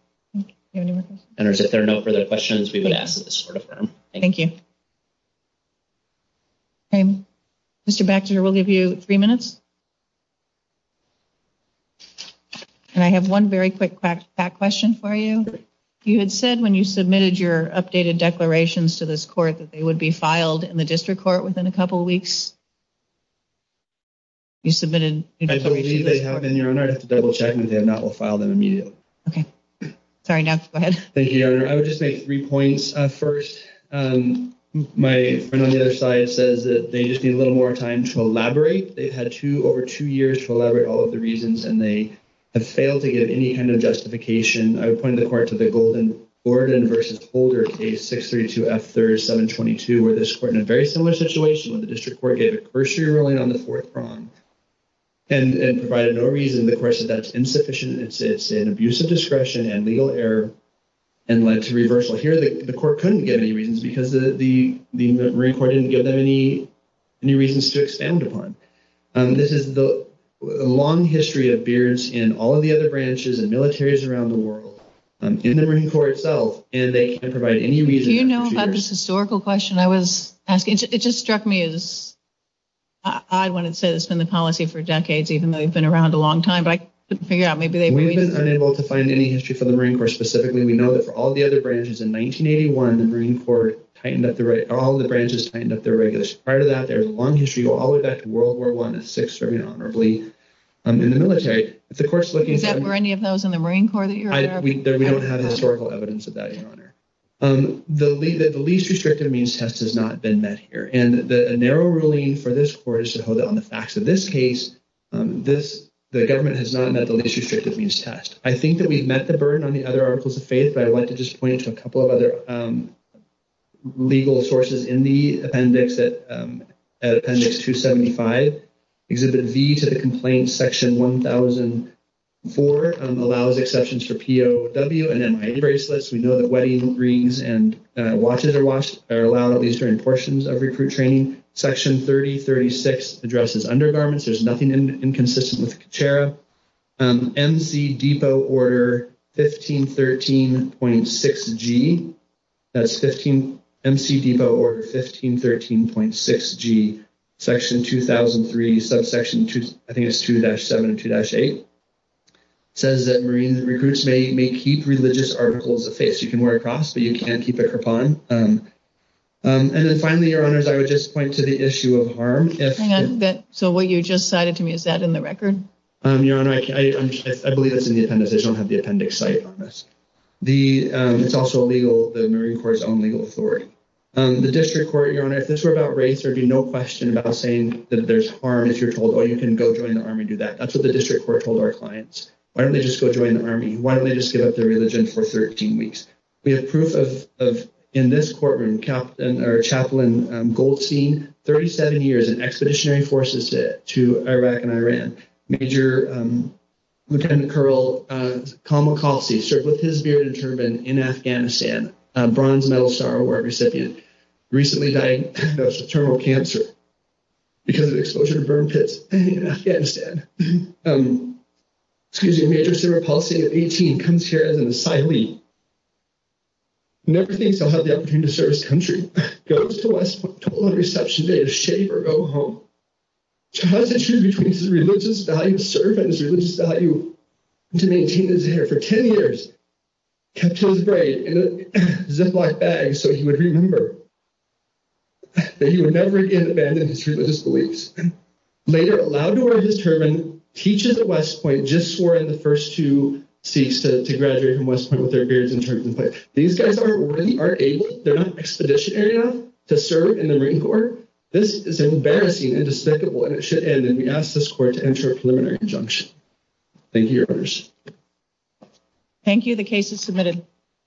Your Honor, if there are no further questions, we will ask that this is over. Thank you. Okay. Mr. Baxter, we'll give you three minutes. And I have one very quick back question for you. You had said when you submitted your updated declarations to this court that they would be filed in the district court within a couple weeks. You submitted... I believe they have been, Your Honor. I have to double-check and that will file them immediately. Okay. Sorry. Go ahead. Thank you, Your Honor. I would just make three points. First, my friend on the other side says that they just need a little more time to elaborate. They've had over two years to elaborate all of the reasons, and they have failed to get any kind of justification. I would point the court to the golden Gordon v. Holder case, 632F3722, where this court in a very similar situation with the district court gave a cursory ruling on the fourth crime and provided no reason to the question that it's insufficient and it's an abuse of discretion and legal error and led to reversal. Here, the court couldn't get any reasons because the Marine Corps didn't give them any reasons to expand upon. This is the long history of beards in all of the other branches and militaries around the world in the Marine Corps itself, and they can't provide any reason. Do you know about this historical question I was asking? It just struck me as odd when it says it's been the policy for decades even though they've been around a long time. We've been unable to find any history from the Marine Corps specifically. We know that for all the other branches in 1981, the Marine Corps tightened up all the branches and tightened up their regulations. Prior to that, there was a long history all the way back to World War I and 6th Army honorably in the military. Is that where any of those in the Marine Corps that you're talking about? We don't have historical evidence of that, Your Honor. The least restrictive means test has not been met here, and a narrow ruling for this court is to hold it on the facts. In this case, the government has not met the least restrictive means test. I think that we've met the burden on the other articles of faith, but I'd like to just point to a couple of other legal sources in the appendix at appendix 275. Exhibit V to the complaint section 1004 allows exceptions for POW and then wedding bracelets. We know that wedding rings and watches are allowed at least in portions of recruit training. Section 3036 addresses undergarments. There's nothing inconsistent with Kachara. MC Depot order 1513.6 G that's 15 MC Depot order 1513.6 G section 2003 subsection 2 I think it's 2-7 and 2-8 says that Marine recruits may keep religious articles of faith. You can work off, but you can't keep it for fun. And then finally, Your Honors, I would just point to the issue of harm. So what you just cited to me, is that in the record? Your Honor, I believe it's in the appendix. I don't have the appendix cited on this. It's also legal. The Marine Corps is on legal authority. The District Court, Your Honor, if this were about race, there would be no question about saying that there's harm if you're told, oh, you can go join the Army and do that. That's what the District Court told our clients. Why don't they just go join the Army? Why don't they just give up their religion for 13 weeks? We have proof of, in this courtroom, Chaplain Goldstein, 37 years in expeditionary forces to Iraq and Iran. Major Lieutenant Colonel Kamal Qasi served with his beard and turban in Afghanistan. A bronze medal star award recipient. Recently died of internal cancer because of exposure to burn pits in Afghanistan. Excuse me, Major General Qasi, at 18, comes here as an asylee. Never thinks about the opportunity to serve his country. Goes to a reception day to shave or go home. So how does he choose between his religion and his family? He was a religious guy who served in a religious value to maintain his hair for 10 years. Kept his braid in a ziplock bag so he would remember that he would never again abandon his religious beliefs. Later, allowed to wear his turban, teaches at West Point, just where the first two Sikhs to graduate from West Point with their beards and turban on. These guys are not able to serve in the ring court. This is embarrassing and we ask this court to enter a preliminary injunction. Thank you. Thank you, the case is submitted.